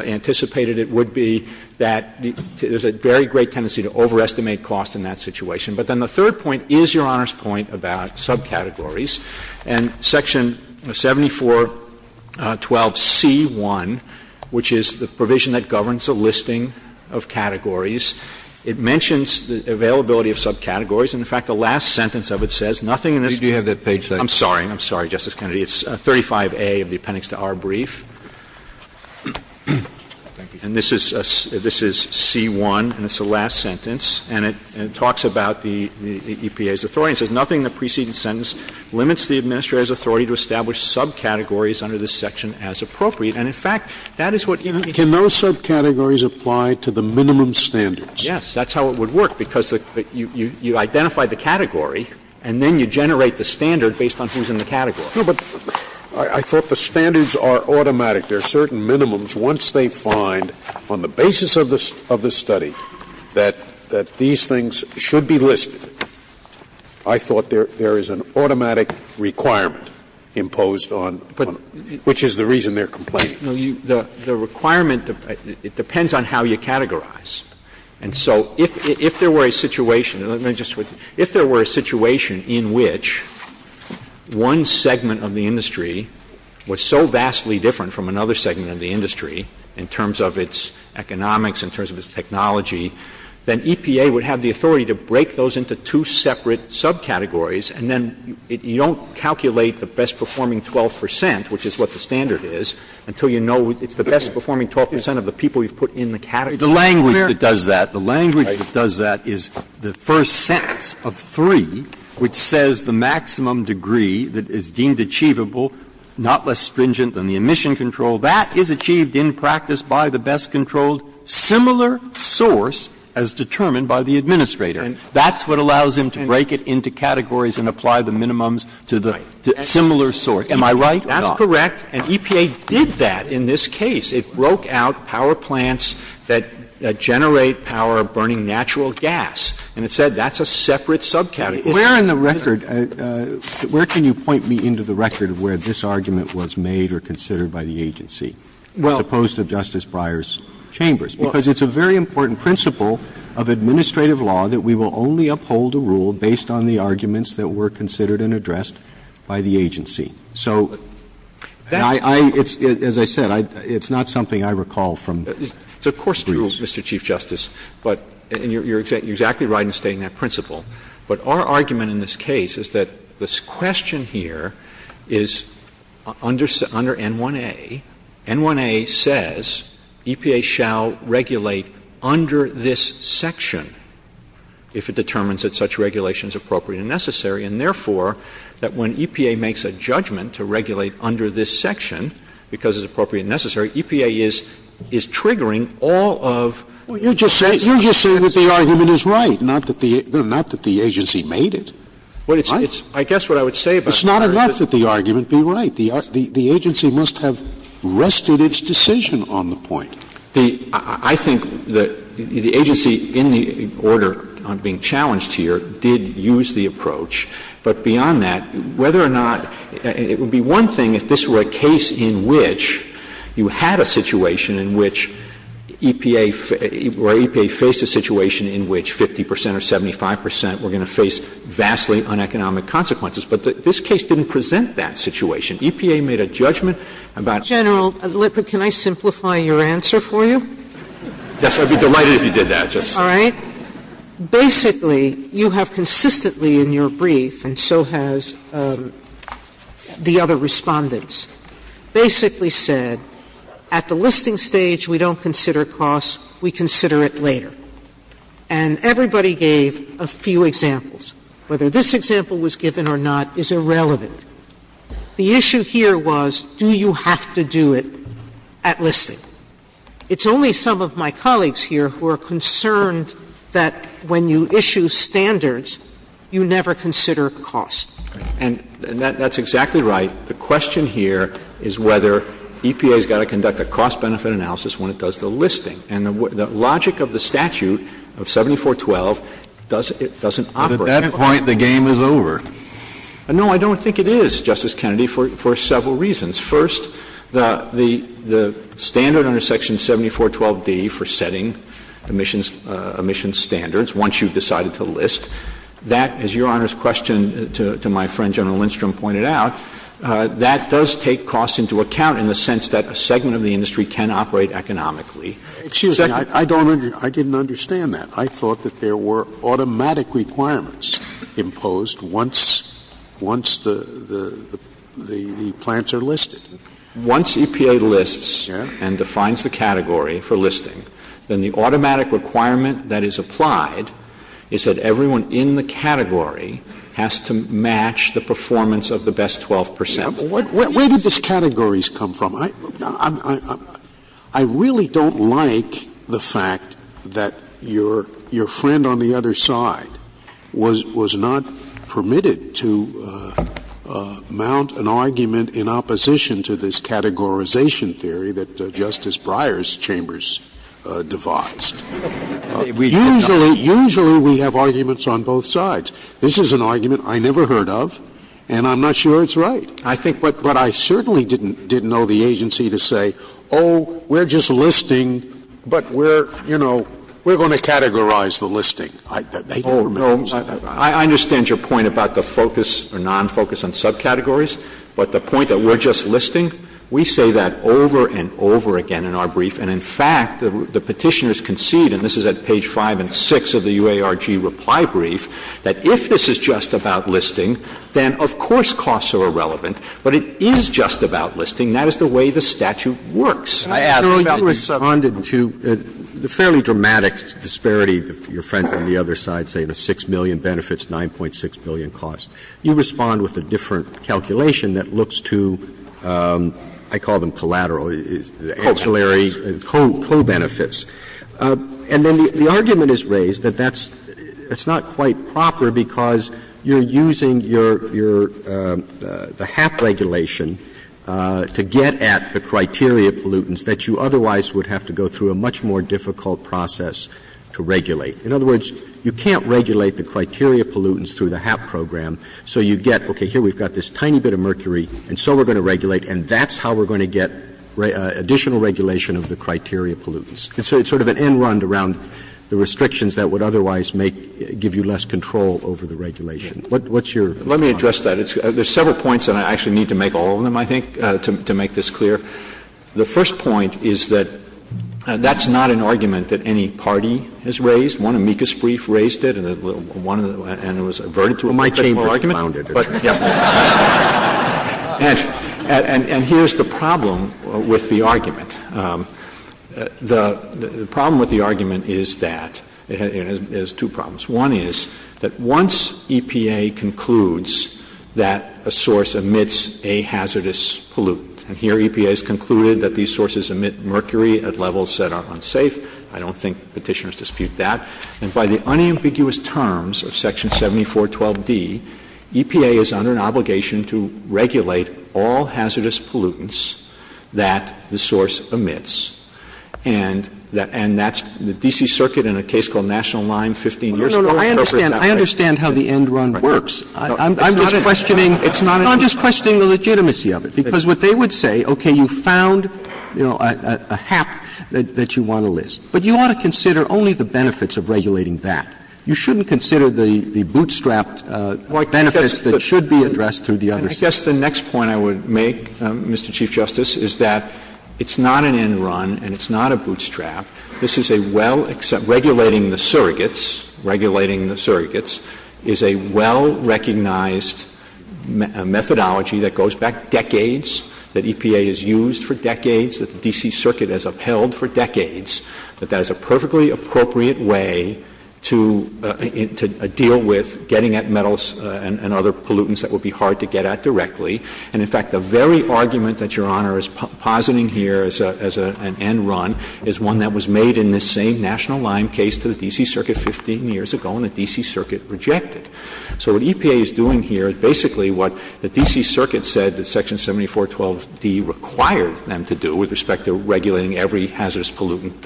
anticipated. It would be that there's a very great tendency to overestimate costs in that situation. But then the third point is Your Honor's point about subcategories. And Section 7412C1, which is the provision that governs the listing of categories, it mentions the availability of subcategories. And, in fact, the last sentence of it says nothing in this... Do you have that page, sir? I'm sorry. I'm sorry, Justice Kennedy. It's 35A of the appendix to our brief. And this is C1, and it's the last sentence. And it talks about the EPA's authority. It says nothing in the preceding sentence limits the administrator's authority to establish subcategories under this section as appropriate. And, in fact, that is what... Can those subcategories apply to the minimum standards? Yes, that's how it would work because you identify the category, and then you generate the standard based on things in the category. But I thought the standards are automatic. There are certain minimums once they find, on the basis of the study, that these things should be listed. I thought there is an automatic requirement imposed on them, which is the reason they're complaining. The requirement depends on how you categorize. And so if there were a situation in which one segment of the industry was so vastly different from another segment of the industry in terms of its economics, in terms of its technology, then EPA would have the authority to break those into two separate subcategories, and then you don't calculate the best-performing 12 percent, which is what the standard is, until you know it's the best-performing 12 percent of the people you've put in the category. The language that does that is the first sentence of 3, which says the maximum degree that is deemed achievable, not less stringent than the emission control, that is achieved in practice by the best-controlled similar source as determined by the administrator. That's what allows him to break it into categories and apply the minimums to the similar source. Am I right? That's correct. And EPA did that in this case. It broke out power plants that generate power burning natural gas. And it said that's a separate subcategory. Where in the record, where can you point me into the record of where this argument was made or considered by the agency, as opposed to Justice Breyer's chambers? Because it's a very important principle of administrative law that we will only uphold a rule based on the arguments that were considered and addressed by the agency. So I — as I said, it's not something I recall from — It's a course rule, Mr. Chief Justice, and you're exactly right in stating that principle. But our argument in this case is that this question here is under N1A. N1A says EPA shall regulate under this section if it determines that such regulation is appropriate and necessary, and therefore that when EPA makes a judgment to regulate under this section because it's appropriate and necessary, EPA is triggering all of — Well, you're just saying that the argument is right, not that the agency made it. Well, it's — I guess what I would say about — It's not enough that the argument be right. The agency must have rested its decision on the point. I think the agency in the order I'm being challenged here did use the approach. But beyond that, whether or not — It would be one thing if this were a case in which you had a situation in which EPA — where EPA faced a situation in which 50 percent or 75 percent were going to face vastly uneconomic consequences. But this case didn't present that situation. EPA made a judgment about — General Lippert, can I simplify your answer for you? Yes, I'd be delighted if you did that. All right. Basically, you have consistently in your brief, and so has the other respondents, basically said at the listing stage we don't consider costs, we consider it later. And everybody gave a few examples. Whether this example was given or not is irrelevant. The issue here was do you have to do it at listing? It's only some of my colleagues here who are concerned that when you issue standards, you never consider costs. And that's exactly right. The question here is whether EPA has got to conduct a cost-benefit analysis when it does the listing. And the logic of the statute of 7412 doesn't operate. At that point, the game is over. No, I don't think it is, Justice Kennedy, for several reasons. First, the standard under Section 7412D for setting emissions standards, once you've decided to list, that, as Your Honor's question to my friend General Lindstrom pointed out, that does take costs into account in the sense that a segment of the industry can operate economically. Excuse me. I didn't understand that. I thought that there were automatic requirements imposed once the plants are listed. Once EPA lists and defines the category for listing, then the automatic requirement that is applied is that everyone in the category has to match the performance of the best 12%. Where did these categories come from? I really don't like the fact that your friend on the other side was not permitted to mount an argument in opposition to this categorization theory that Justice Breyer's chambers devised. Usually we have arguments on both sides. This is an argument I never heard of, and I'm not sure it's right. But I certainly didn't know the agency to say, oh, we're just listing, but we're going to categorize the listing. I understand your point about the focus or non-focus on subcategories, but the point that we're just listing, we say that over and over again in our brief. And, in fact, the petitioners concede, and this is at page 5 and 6 of the UARG reply brief, that if this is just about listing, then, of course, costs are irrelevant. But it is just about listing. That is the way the statute works. I ask that you respond to the fairly dramatic disparity, your friend on the other side saying that 6 million benefits, 9.6 million costs. You respond with a different calculation that looks to, I call them collateral, the ancillary co-benefits. And then the argument is raised that that's not quite proper because you're using the HAP regulation to get at the criteria pollutants that you otherwise would have to go through a much more difficult process to regulate. In other words, you can't regulate the criteria pollutants through the HAP program, so you get, okay, here we've got this tiny bit of mercury, and so we're going to regulate, and that's how we're going to get additional regulation of the criteria pollutants. It's sort of an end-run around the restrictions that would otherwise give you less control over the regulation. What's your response? Let me address that. There's several points, and I actually need to make all of them, I think, to make this clear. The first point is that that's not an argument that any party has raised. One amicus brief raised it, and it was averted to a particular argument. Well, my team founded it. And here's the problem with the argument. The problem with the argument is that it has two problems. One is that once EPA concludes that a source emits a hazardous pollutant, and here EPA has concluded that these sources emit mercury at levels that are unsafe. I don't think petitioners dispute that. And by the unambiguous terms of Section 7412D, EPA is under an obligation to regulate all hazardous pollutants that the source emits. And that's the D.C. Circuit in a case called National Line 15 years ago. I understand how the end-run works. I'm just questioning the legitimacy of it, because what they would say, okay, you found a hap that you want to list, but you ought to consider only the benefits of regulating that. You shouldn't consider the bootstrapped benefits that should be addressed through the other side. I guess the next point I would make, Mr. Chief Justice, is that it's not an end-run and it's not a bootstrap. This is a well-regulating the surrogates. Regulating the surrogates is a well-recognized methodology that goes back decades, that EPA has used for decades, that the D.C. Circuit has upheld for decades, that that is a perfectly appropriate way to deal with getting at metals and other pollutants that would be hard to get at directly. And, in fact, the very argument that Your Honor is positing here as an end-run is one that was made in this same National Line case to the D.C. Circuit 15 years ago, and the D.C. Circuit rejected. So what EPA is doing here is basically what the D.C. Circuit said that Section 7412D required them to do with respect to regulating every hazardous pollutant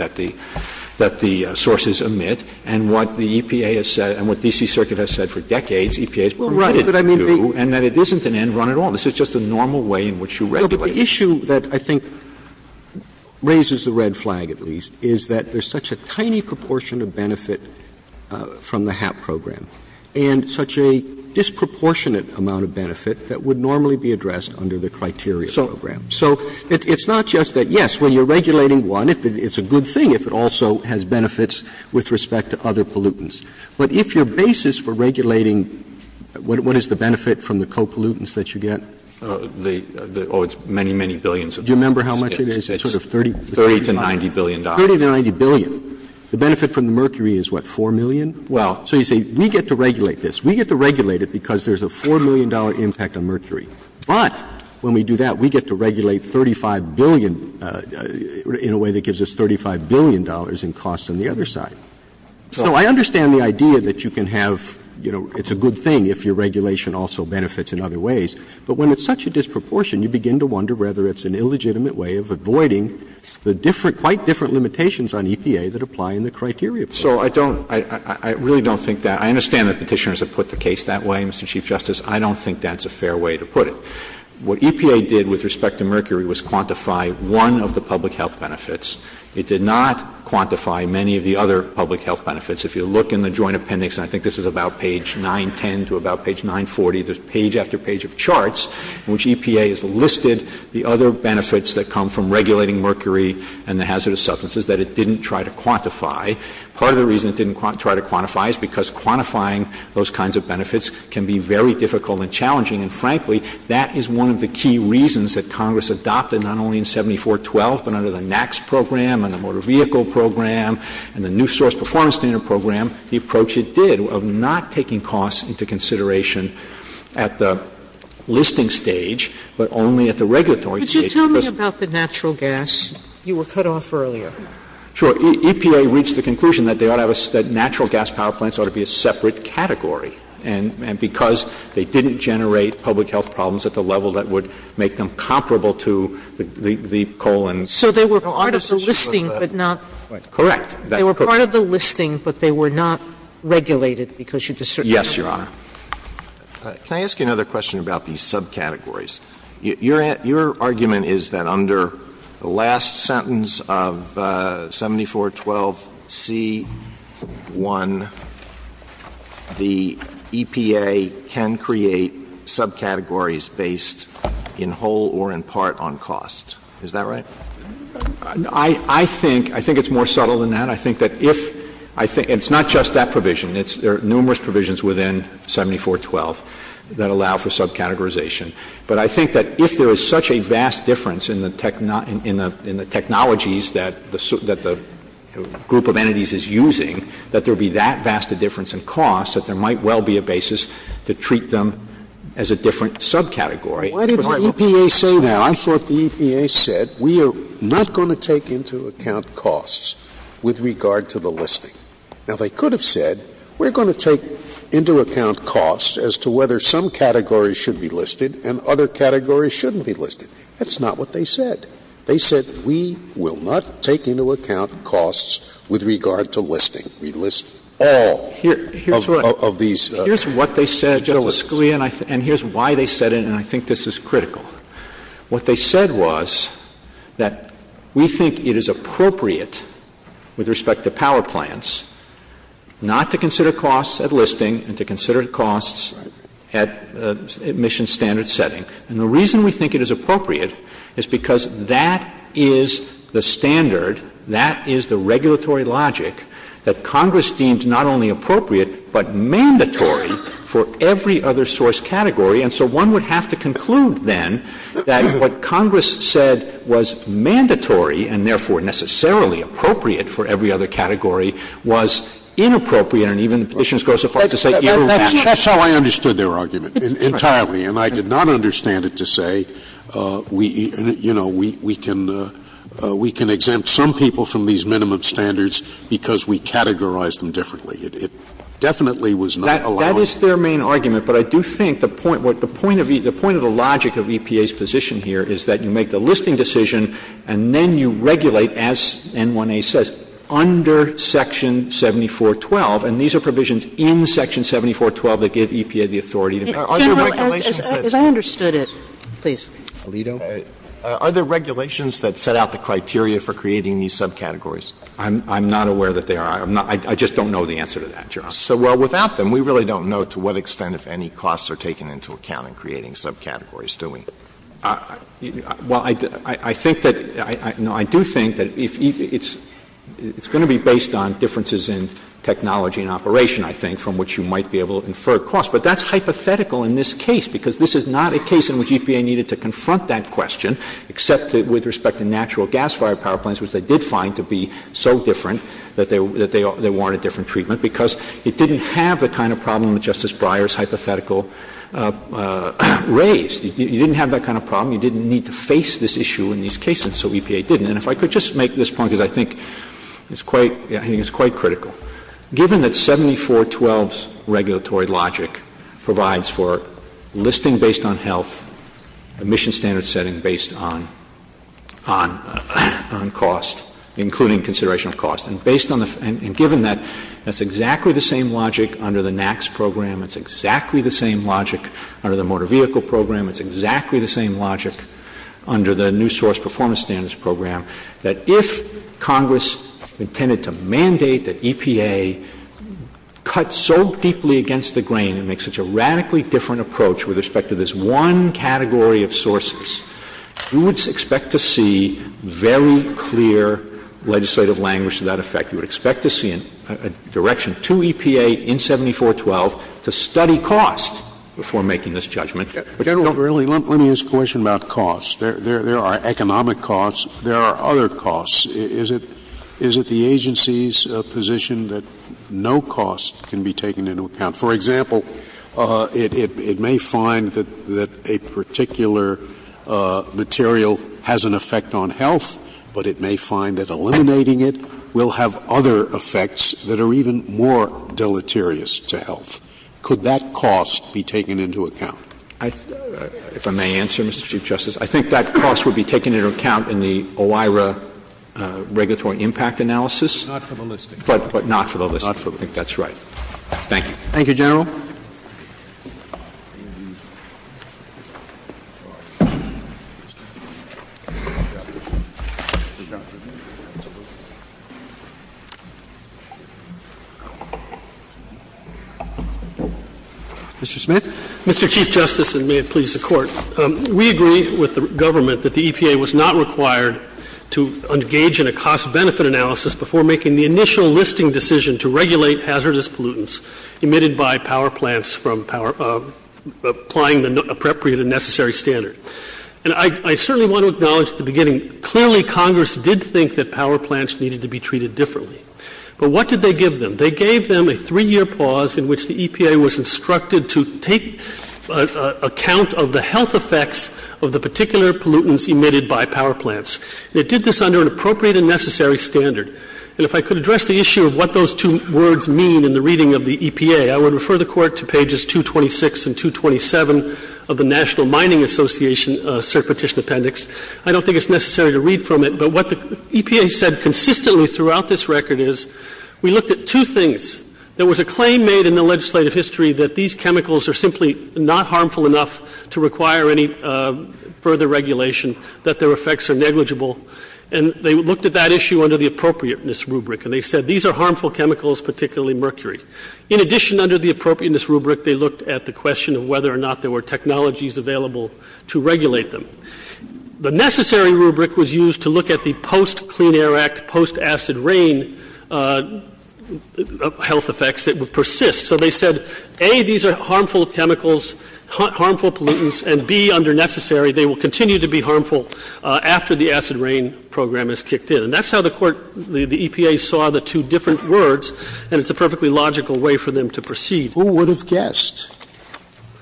that the sources emit, and what the EPA has said, and what the D.C. Circuit has said for decades, EPA is permitted to do, and that it isn't an end-run at all. This is just a normal way in which you regulate. But the issue that I think raises the red flag, at least, is that there's such a tiny proportion of benefit from the HAP program, and such a disproportionate amount of benefit that would normally be addressed under the criteria program. So it's not just that, yes, when you're regulating one, it's a good thing if it also has benefits with respect to other pollutants. But if your basis for regulating, what is the benefit from the co-pollutants that you get? Oh, it's many, many billions. Do you remember how much it is? It's sort of $30 to $90 billion. $30 to $90 billion. The benefit from mercury is, what, $4 million? Well... So you say, we get to regulate this. We get to regulate it because there's a $4 million impact on mercury. But when we do that, we get to regulate $35 billion, in a way that gives us $35 billion in costs on the other side. So I understand the idea that you can have, you know, it's a good thing if your regulation also benefits in other ways. But when it's such a disproportion, you begin to wonder whether it's an illegitimate way of avoiding the different, quite different limitations on EPA that apply in the criteria program. So I don't, I really don't think that. I understand that Petitioners have put the case that way, Mr. Chief Justice. I don't think that's a fair way to put it. What EPA did with respect to mercury was quantify one of the public health benefits. It did not quantify many of the other public health benefits. If you look in the Joint Appendix, and I think this is about page 910 to about page 940, there's page after page of charts in which EPA has listed the other benefits that come from regulating mercury and the hazardous substances that it didn't try to quantify. Part of the reason it didn't try to quantify is because quantifying those kinds of benefits can be very difficult and challenging. And frankly, that is one of the key reasons that Congress adopted, not only in 7412, but under the NAAQS program and the Motor Vehicle Program and the New Source Performance Standard Program, the approach it did of not taking costs into consideration at the listing stage, but only at the regulatory stage. Could you tell me about the natural gas? You were cut off earlier. Sure. EPA reached the conclusion that natural gas power plants ought to be a separate category and because they didn't generate public health problems at the level that would make them comparable to the coal and... So they were part of the listing, but not... Correct. They were part of the listing, but they were not regulated because you're discerning... Yes, Your Honor. Can I ask you another question about these subcategories? Your argument is that under the last sentence of 7412C1, the EPA can create subcategories based in whole or in part on cost. Is that right? I think it's more subtle than that. I think that if... It's not just that provision. There are numerous provisions within 7412 that allow for subcategorization. But I think that if there is such a vast difference in the technologies that the group of entities is using, that there would be that vast a difference in cost that there might well be a basis to treat them as a different subcategory. Why did the EPA say that? I thought the EPA said, we are not going to take into account costs with regard to the listing. Now, they could have said, we're going to take into account costs as to whether some categories should be listed and other categories shouldn't be listed. That's not what they said. They said, we will not take into account costs with regard to listing. We list all of these subcategories. Here's what they said, and here's why they said it, and I think this is critical. What they said was that we think it is appropriate with respect to power plants not to consider costs at listing and to consider costs at admission standard setting. And the reason we think it is appropriate is because that is the standard, that is the regulatory logic that Congress deems not only appropriate but mandatory for every other source category. And so one would have to conclude then that what Congress said was mandatory and therefore necessarily appropriate for every other category was inappropriate That's how I understood their argument entirely, and I did not understand it to say, you know, we can exempt some people from these minimum standards because we categorized them differently. It definitely was not allowed. That is their main argument, but I do think the point of the logic of EPA's position here is that you make the listing decision and then you regulate, as N1A says, under Section 74.12, and these are provisions in Section 74.12 that give EPA the authority. As I understood it, please. Are there regulations that set out the criteria for creating these subcategories? I'm not aware that there are. I just don't know the answer to that, John. So, well, without them, we really don't know to what extent if any costs are taken into account in creating subcategories, do we? Well, I think that, no, I do think that it's going to be based on differences in technology and operation, I think, from which you might be able to infer costs, but that's hypothetical in this case because this is not a case in which EPA needed to confront that question, except with respect to natural gas-fired power plants, which they did find to be so different that they wanted different treatment because it didn't have the kind of problem that Justice Breyer's hypothetical raised. You didn't have that kind of problem. You didn't need to face this issue in these cases, so EPA didn't. And if I could just make this point, because I think it's quite critical. Given that 7412's regulatory logic provides for listing based on health, emission standards setting based on cost, including consideration of cost, and given that that's exactly the same logic under the NAAQS program, it's exactly the same logic under the motor vehicle program, it's exactly the same logic under the new source performance standards program, that if Congress intended to mandate that EPA cut so deeply against the grain and make such a radically different approach with respect to this one category of sources, you would expect to see very clear legislative language to that effect. You would expect to see a direction to EPA in 7412 to study costs before making this judgment, General Verrilli, let me ask a question about costs. There are economic costs. There are other costs. Is it the agency's position that no cost can be taken into account? For example, it may find that a particular material has an effect on health, but it may find that eliminating it will have other effects that are even more deleterious to health. Could that cost be taken into account? If I may answer, Mr. Chief Justice, I think that cost would be taken into account in the OIRA regulatory impact analysis. Not for the list. But not for the list. Not for the list. I think that's right. Thank you. Thank you, General. Thank you. Mr. Smith? Mr. Chief Justice, and may it please the Court, we agree with the government that the EPA was not required to engage in a cost-benefit analysis before making the initial listing decision to regulate hazardous pollutants emitted by power plants applying the appropriate and necessary standard. And I certainly want to acknowledge at the beginning, clearly Congress did think that power plants needed to be treated differently. But what did they give them? They gave them a three-year pause in which the EPA was instructed to take account of the health effects of the particular pollutants emitted by power plants. They did this under an appropriate and necessary standard. And if I could address the issue of what those two words mean in the reading of the EPA, I would refer the Court to pages 226 and 227 of the National Mining Association Certification Appendix. I don't think it's necessary to read from it, but what the EPA said consistently throughout this record is we looked at two things. There was a claim made in the legislative history that these chemicals are simply not harmful enough to require any further regulation, that their effects are negligible. And they looked at that issue under the appropriateness rubric. And they said these are harmful chemicals, particularly mercury. In addition, under the appropriateness rubric, they looked at the question of whether or not there were technologies available to regulate them. The necessary rubric was used to look at the post-Clean Air Act, post-acid rain health effects that would persist. So they said, A, these are harmful chemicals, harmful pollutants, and B, under necessary, they will continue to be harmful after the acid rain program is kicked in. And that's how the EPA saw the two different words, and it's a perfectly logical way for them to perceive. Who would have guessed?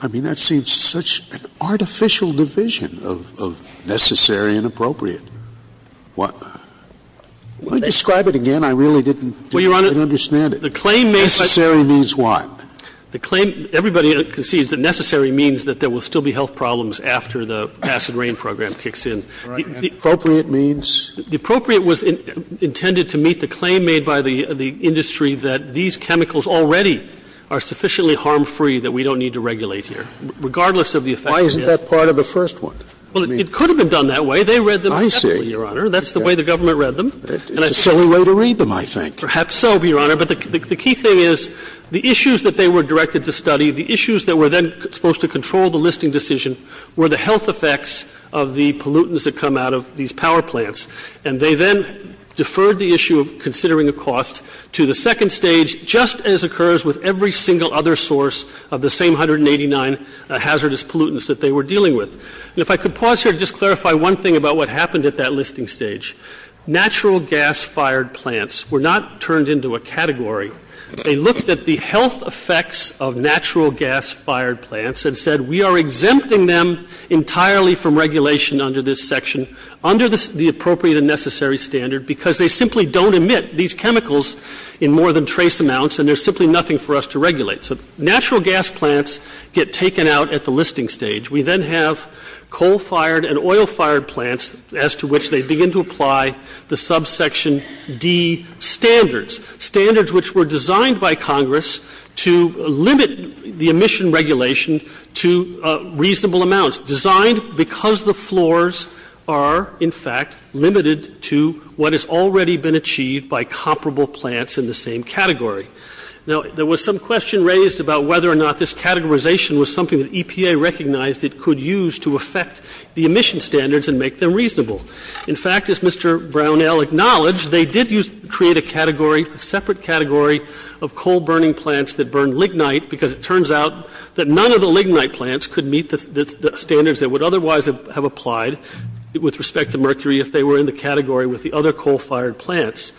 I mean, that seems such an artificial division of necessary and appropriate. What? Describe it again. I really didn't understand it. The claim necessary means what? The claim... Everybody concedes the necessary means that there will still be health problems after the acid rain program kicks in. Appropriate means? The appropriate was intended to meet the claim made by the industry that these chemicals already are sufficiently harm-free that we don't need to regulate them, regardless of the effect... Why isn't that part of the first one? Well, it could have been done that way. They read them separately, Your Honor. I see. That's the way the government read them. It's a silly way to read them, I think. Perhaps so, Your Honor, but the key thing is the issues that they were directed to study, the issues that were then supposed to control the listing decision were the health effects of the pollutants that come out of these power plants. And they then deferred the issue of considering a cost to the second stage, just as occurs with every single other source of the same 189 hazardous pollutants that they were dealing with. If I could pause here to just clarify one thing about what happened at that listing stage. Natural gas-fired plants were not turned into a category. They looked at the health effects of natural gas-fired plants and said, we are exempting them entirely from regulation under this section under the appropriate and necessary standard because they simply don't emit these chemicals in more than trace amounts and there's simply nothing for us to regulate. So natural gas plants get taken out at the listing stage. We then have coal-fired and oil-fired plants as to which they begin to apply the subsection D standards, standards which were designed by Congress to limit the emission regulation to reasonable amounts, designed because the floors are, in fact, limited to what has already been achieved by comparable plants in the same category. Now, there was some question raised about whether or not this categorization was something that EPA recognized it could use to affect the emission standards and make them reasonable. In fact, as Mr. Brownell acknowledged, they did create a category, separate category, of coal-burning plants that burn lignite because it turns out that none of the lignite plants could meet the standards that would otherwise have applied with respect to mercury if they were in the category with the other coal-fired plants.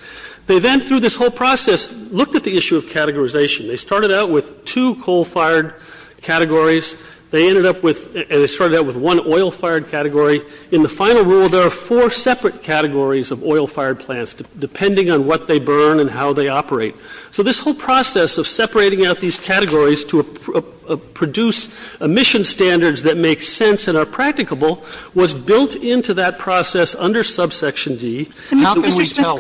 They then, through this whole process, looked at the issue of categorization. They started out with two coal-fired categories. They ended up with, and they started out with one oil-fired category. In the final rule, there are four separate categories of oil-fired plants depending on what they burn and how they operate. So this whole process of separating out these categories to produce emission standards that make sense and are practicable was built into that process under subsection D. How can we tell?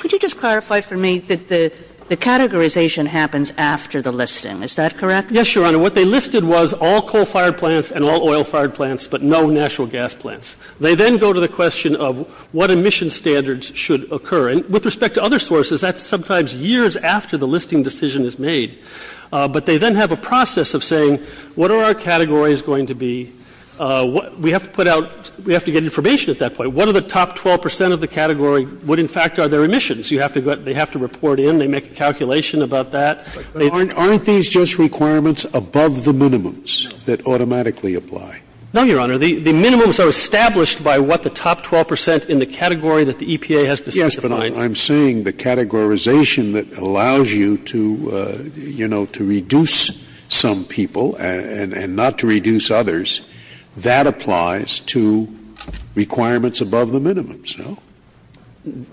Could you just clarify for me that the categorization happens after the listing? Is that correct? Yes, Your Honor. What they listed was all coal-fired plants and all oil-fired plants but no natural gas plants. They then go to the question of what emission standards should occur. With respect to other sources, that's sometimes years after the listing decision is made. But they then have a process of saying, what are our categories and what is going to be... We have to get information at that point. What are the top 12% of the category would, in fact, are their emissions? They have to report in. They make a calculation about that. Aren't these just requirements above the minimums that automatically apply? No, Your Honor. The minimums are established by what the top 12% in the category that the EPA has to specify. I'm saying the categorization that allows you to reduce some people and not to reduce others, that applies to requirements above the minimums.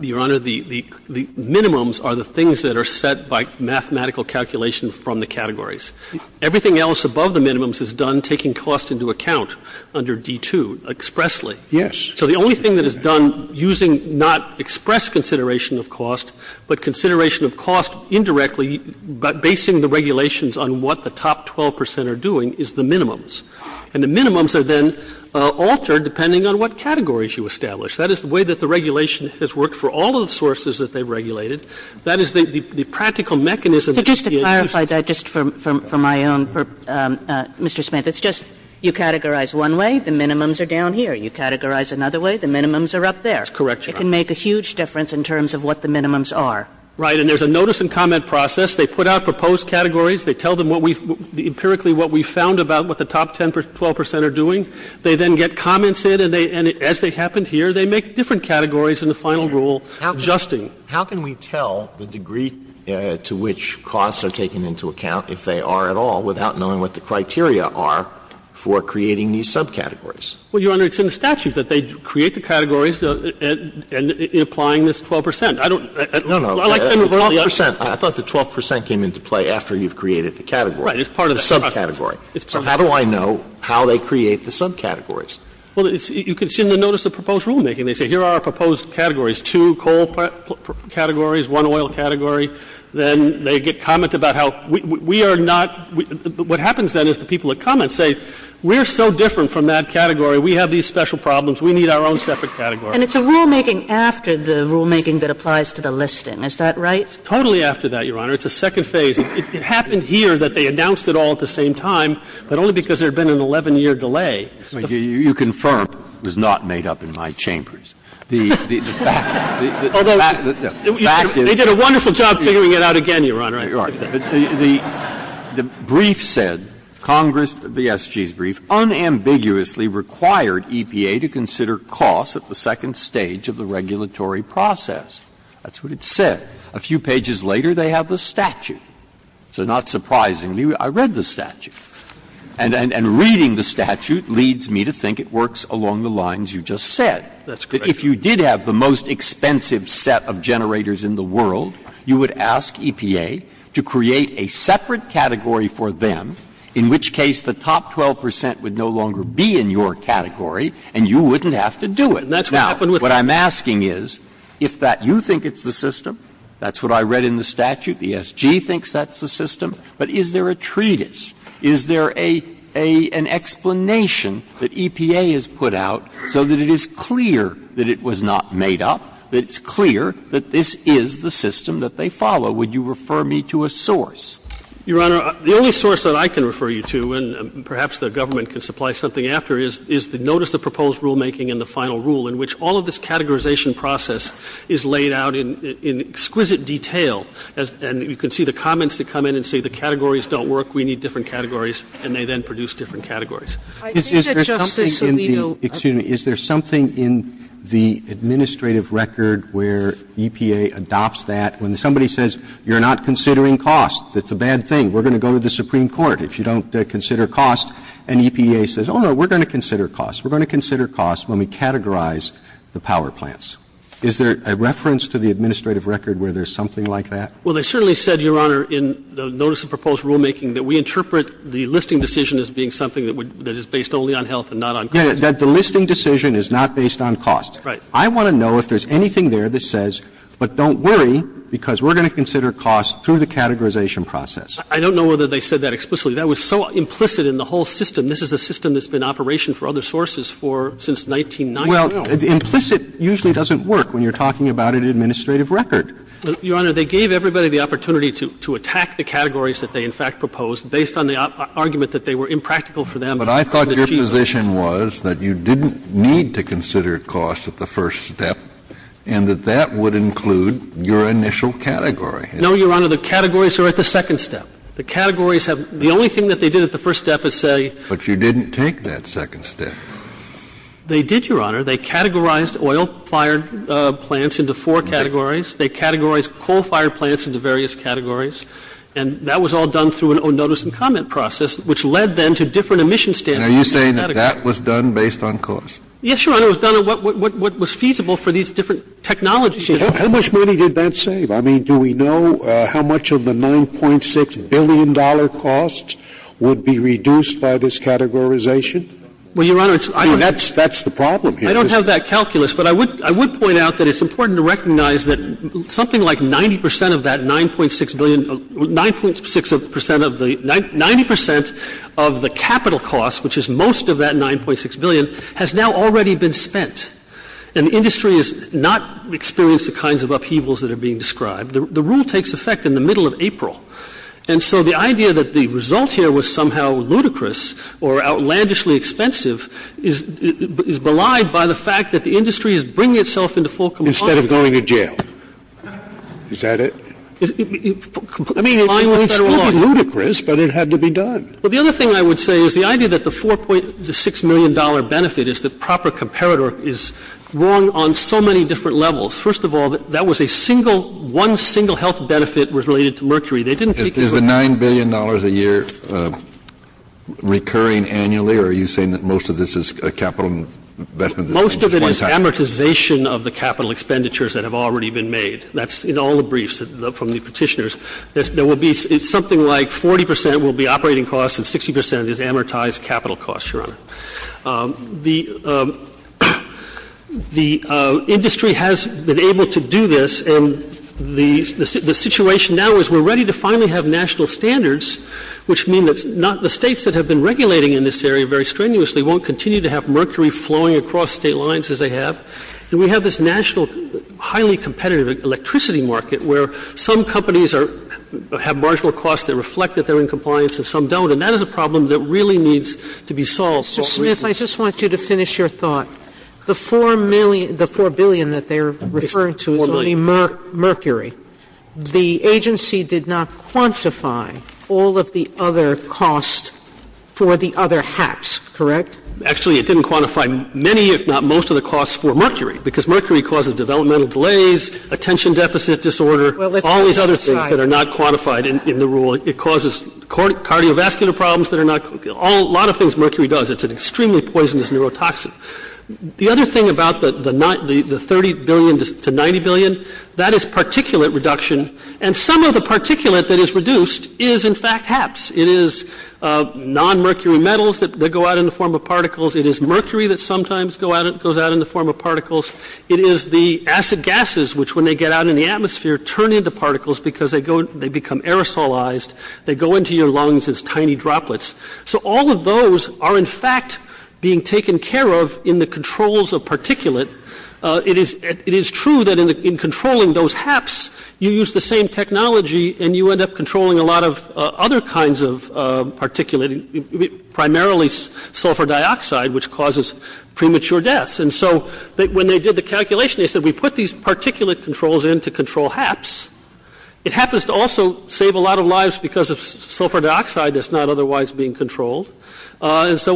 Your Honor, the minimums are the things that are set by mathematical calculations from the categories. Everything else above the minimums is done taking cost into account under D2 expressly. Yes. So the only thing that is done using not express consideration of cost but consideration of cost indirectly but basing the regulations on what the top 12% are doing is the minimums. And the minimums are then altered depending on what categories you establish. That is the way that the regulation has worked for all of the sources that they regulated. That is the practical mechanism. But just to clarify that just for my own purpose, Mr. Smith, it's just you categorize one way, the minimums are down here. You categorize another way, the minimums are up there. That's correct, Your Honor. It can make a huge difference in terms of what the minimums are. Right. And there's a notice and comment process. They put out empirically what we found about what the top 10% or 12% are doing. They then get commented and as they happen here, they make different categories in the final rule adjusting. How can we tell the degree to which costs are taken into account if they are at all without knowing what the criteria are for creating these subcategories? Well, Your Honor, it's in the statute that they create the categories and applying this 12%. I don't... No, no. I thought the 12% came into play after you've created the categories. Right. It's part of the subcategory. So how do I know how they create the subcategories? Well, you can see in the notice of proposed rulemaking. They say, here are our proposed categories. Two coal categories, one oil category. Then they get comments about how we are not... What happens then is the people that comment say, we're so different from that category. We have these special problems. We need our own separate categories. And it's a rulemaking after the rulemaking that applies to the listing. Is that right? Totally after that, Your Honor. It's a second phase. It happened here that they announced it all at the same time, but only because there had been an 11-year delay. You confirm it was not made up in my chambers. Although... The fact is... They did a wonderful job figuring it out again, Your Honor. You're right. The brief said, the SG's brief, at the second stage of the regulatory process. That's what it said. A few pages later, they have the statute. It's a statute that states that EPA has to consider costs for generating generators. So not surprisingly, I read the statute. And reading the statute leads me to think it works along the lines you just said. That's correct. If you did have the most expensive set of generators in the world, you would ask EPA to create a separate category for them, in which case the top 12% would no longer be in your category, and you wouldn't have to do it. Now, what I'm asking is, if you think it's the system, that's what I read in the statute, I think the SG thinks that's the system, but is there a treatise? Is there an explanation that EPA has put out so that it is clear that it was not made up, that it's clear that this is the system that they follow? Would you refer me to a source? Your Honor, the only source that I can refer you to, and perhaps the government can supply something after, is the notice of proposed rulemaking and the final rule, in which all of this categorization process is laid out in exquisite detail, and you can see the comments that come in and say the categories don't work, we need different categories, and they then produce different categories. Is there something in the administrative record where EPA adopts that, when somebody says, you're not considering cost, that's a bad thing, we're going to go to the Supreme Court if you don't consider cost, and EPA says, oh no, we're going to consider cost, we're going to consider cost when we categorize the power plants. Is there a reference to the administrative record where there's something like that? Well, they certainly said, Your Honor, in the notice of proposed rulemaking, that we interpret the listing decision as being something that is based only on health and not on cost. Yeah, that the listing decision is not based on cost. Right. I want to know if there's anything there that says, but don't worry, because we're going to consider cost through the categorization process. I don't know whether they said that explicitly. That was so implicit in the whole system. This is a system that's been in operation for other sources since 1990. Well, implicit usually doesn't work when you're talking about an administrative record. Your Honor, they gave everybody the opportunity to attack the categories that they in fact proposed based on the argument that they were impractical for them. But I thought your position was that you didn't need to consider cost at the first step and that that would include your initial category. No, Your Honor, the categories are at the second step. The categories have the only thing that they did at the first step is say But you didn't take that second step. They did, Your Honor. They categorized oil-fired plants into four categories. They categorized coal-fired plants into various categories. And that was all done through a notice and comment process, which led them to different emission standards. Are you saying that that was done based on cost? Yes, Your Honor. It was done on what was feasible for these different technologies. How much money did that save? I mean, do we know how much of the $9.6 billion cost would be reduced by this categorization? Well, Your Honor, that's the problem here. I don't have that calculus, but I would point out that it's important to recognize that something like 90 percent of that $9.6 billion that $9.6 billion, has now already been spent. And the industry has not experienced the kinds of upheavals that we've had in the past. We've had upheavals that are being described. The rule takes effect in the middle of April, and so the idea that the result here was somehow ludicrous or outlandishly expensive is belied by the fact that the industry is bringing itself into full compliance. Instead of going to jail. Is that it? I mean, it was ludicrous, but it had to be done. Well, the other thing I would say is the idea that the $4.6 million benefit is that proper comparator is wrong on so many different levels. First of all, that was a single, one single health benefit was related to mercury. They didn't Is the $9 billion a year recurring annually or are you saying that most of this is capital investment? Most of it is amortization of the capital expenditures that have already been made. That's in all the briefs from the petitioners. There will be something like 40% will be operating costs and 60% is amortized capital costs. The industry has been able to do this and the situation now is we're ready to finally have national standards, which means the states that have been regulating in this area very strenuously won't continue to have mercury flowing across state lines as they have. And we have this national highly competitive electricity market where some companies have marginal costs that reflect that they're in compliance and some don't. And that is a very difficult situation. that's one of the reasons. I just want you to finish your thought. The 4 billion that they're referring to is only mercury. The agency did not quantify all of the other costs for the other hacks, correct? Actually, it didn't quantify many if not most of the costs for mercury because mercury causes developmental delays, attention deficit disorder, all these other things that are not quantified in the rule. It causes cardiovascular problems. A lot of things mercury does. It's an extremely poisonous neurotoxin. The other thing about the 30 billion to 90 billion, that is particulate reduction. And some of those things, the acid gases, which turn into particles because they become aerosolized, they go into your lungs as tiny droplets. All of those are in fact being taken care of in the controls of particulate. It is true that in controlling those hacks, you use the same technology and you end up controlling a lot of other kinds of particulate. Primarily sulfur dioxide, which causes premature deaths. When they did the calculation, they said we put these controls in to control hacks. It also saves a lot of lives because of sulfur dioxide that is not otherwise being controlled. Is this the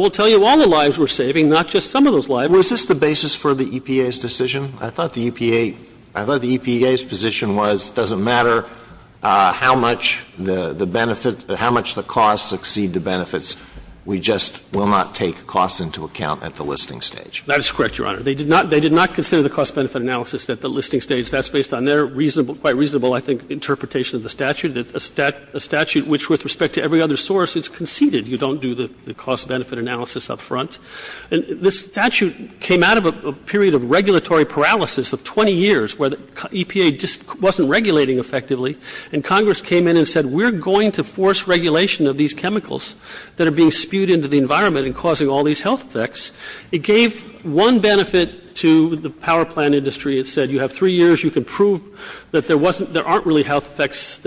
basis for the EPA's decision? I thought the EPA's position was it doesn't matter how much the costs exceed the benefits, we just will not take costs into account at the listing stage. That is correct. They did not consider the cost benefit analysis at the listing stage. That is based on their reasonable interpretation of the cost benefit analysis. The EPA was not regulating effectively. Congress said we will force regulation of these chemicals. It gave one benefit to the power plant industry. You have three years and you can prove there are not serious health effects.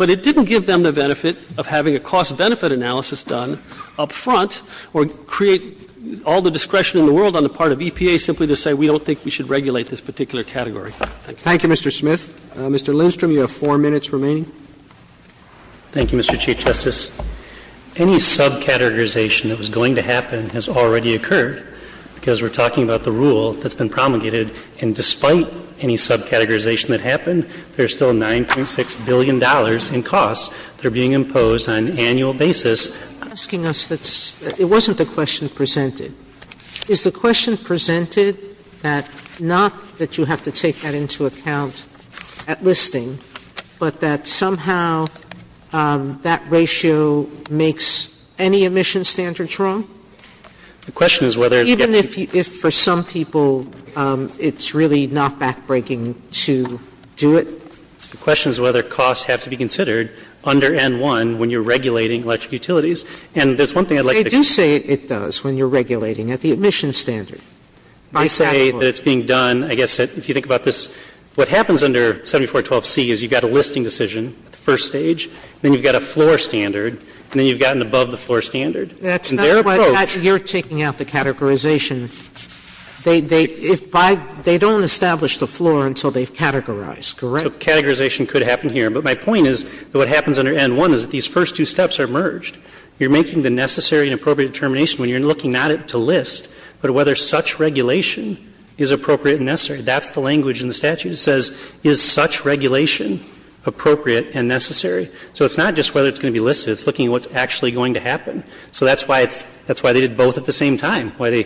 It did not give them the benefit of having a cost benefit analysis done up front or create all the discretion in the world on the part of EPA to say we don't think we should regulate this category. Mr. Lindstrom, you have four minutes remaining. Any sub categorization that was going to happen has already occurred because we're talking about the rule that's been promulgated and despite any sub categorization that happened there's still $9.6 billion in costs being imposed on an annual basis. It wasn't the question presented. Is the question presented that not that you have to take that into account at listing but that somehow that ratio makes any emission standards wrong? Even if for some people it's really not backbreaking to do it? The question is whether costs have to be considered under N1 when you're regulating electric utilities. They do say it does when you're regulating at the emission standard. If you think about this, what happens under 7412C is you have a listing decision, a floor standard, and above the floor standard. You're taking out the categorization. They don't establish the floor until they categorize. You're making the necessary and appropriate determination when you're looking not at the list but whether such regulation is appropriate and necessary. That's the language in the statute. It says is such regulation appropriate and necessary? It's not just whether it's going to be listed. It's looking at what's going to happen. That's why they did both at the same time. They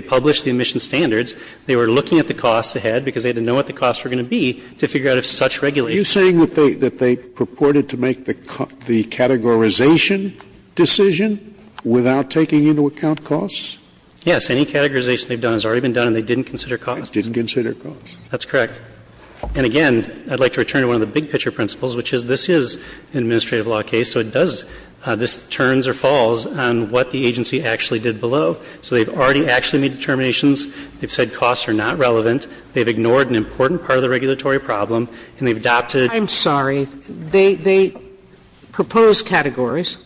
published the emission standards. They were looking at the costs ahead because they didn't know what the costs were going to be. You're saying they purported to make the categorization decision without taking into account costs? Yes. Any categorization they've done and they didn't consider costs? That's correct. Again, I'd like to return to one of the big picture principles. This turns or falls on what the agency did below. They've said costs are not relevant. They've ignored an important part of the regulatory problem. I'm sorry. They proposed those categories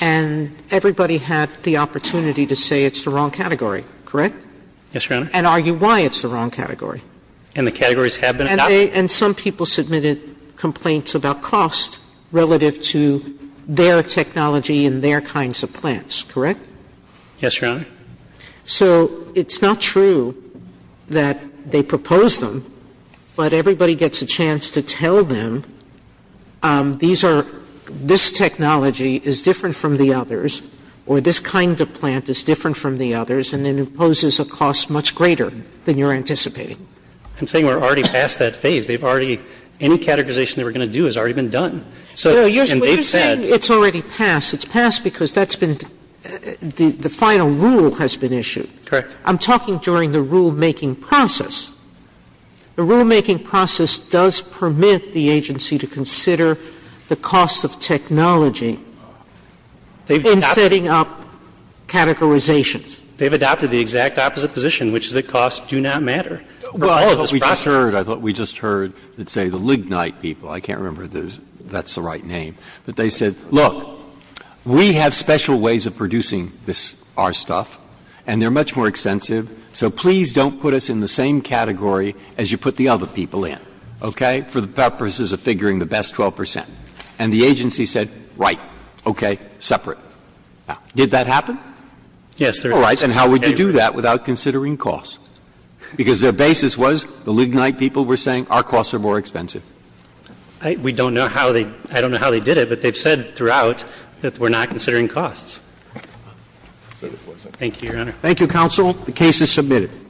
and everybody had the opportunity to say it's the wrong category, correct? And argue why it's the wrong category. Some people submitted complaints about costs relative to their technology and their kinds of plans, correct? Yes, Your Honor. It's not true that they proposed them, but everybody gets a chance to say this technology is different from the others or this kind of plant is different from the others and imposes a cost much greater than you're anticipating. I'm saying we're already past that phase. Any categorization we're going to do has already been done. You're saying it's already passed. It's passed because the final rule has been issued. Correct. I'm talking during the rule-making process. The rule-making process does permit the agency to consider the cost of technology in setting up categorizations. They've adopted the exact opposite position, which the costs do not matter. I thought we just heard the Lignite people, I can't remember that's the right name, they said look, we have special ways of producing our stuff and they're much more expensive so please don't put us in the same category as you put the other people in. And the agency said right, separate. Did that happen? And how would you do that without considering costs? Because the Lignite people were saying our costs are more expensive. I don't know how they did it, but they've said throughout that we're not considering costs. Thank you, Your Honor. Thank you, counsel. The case is submitted.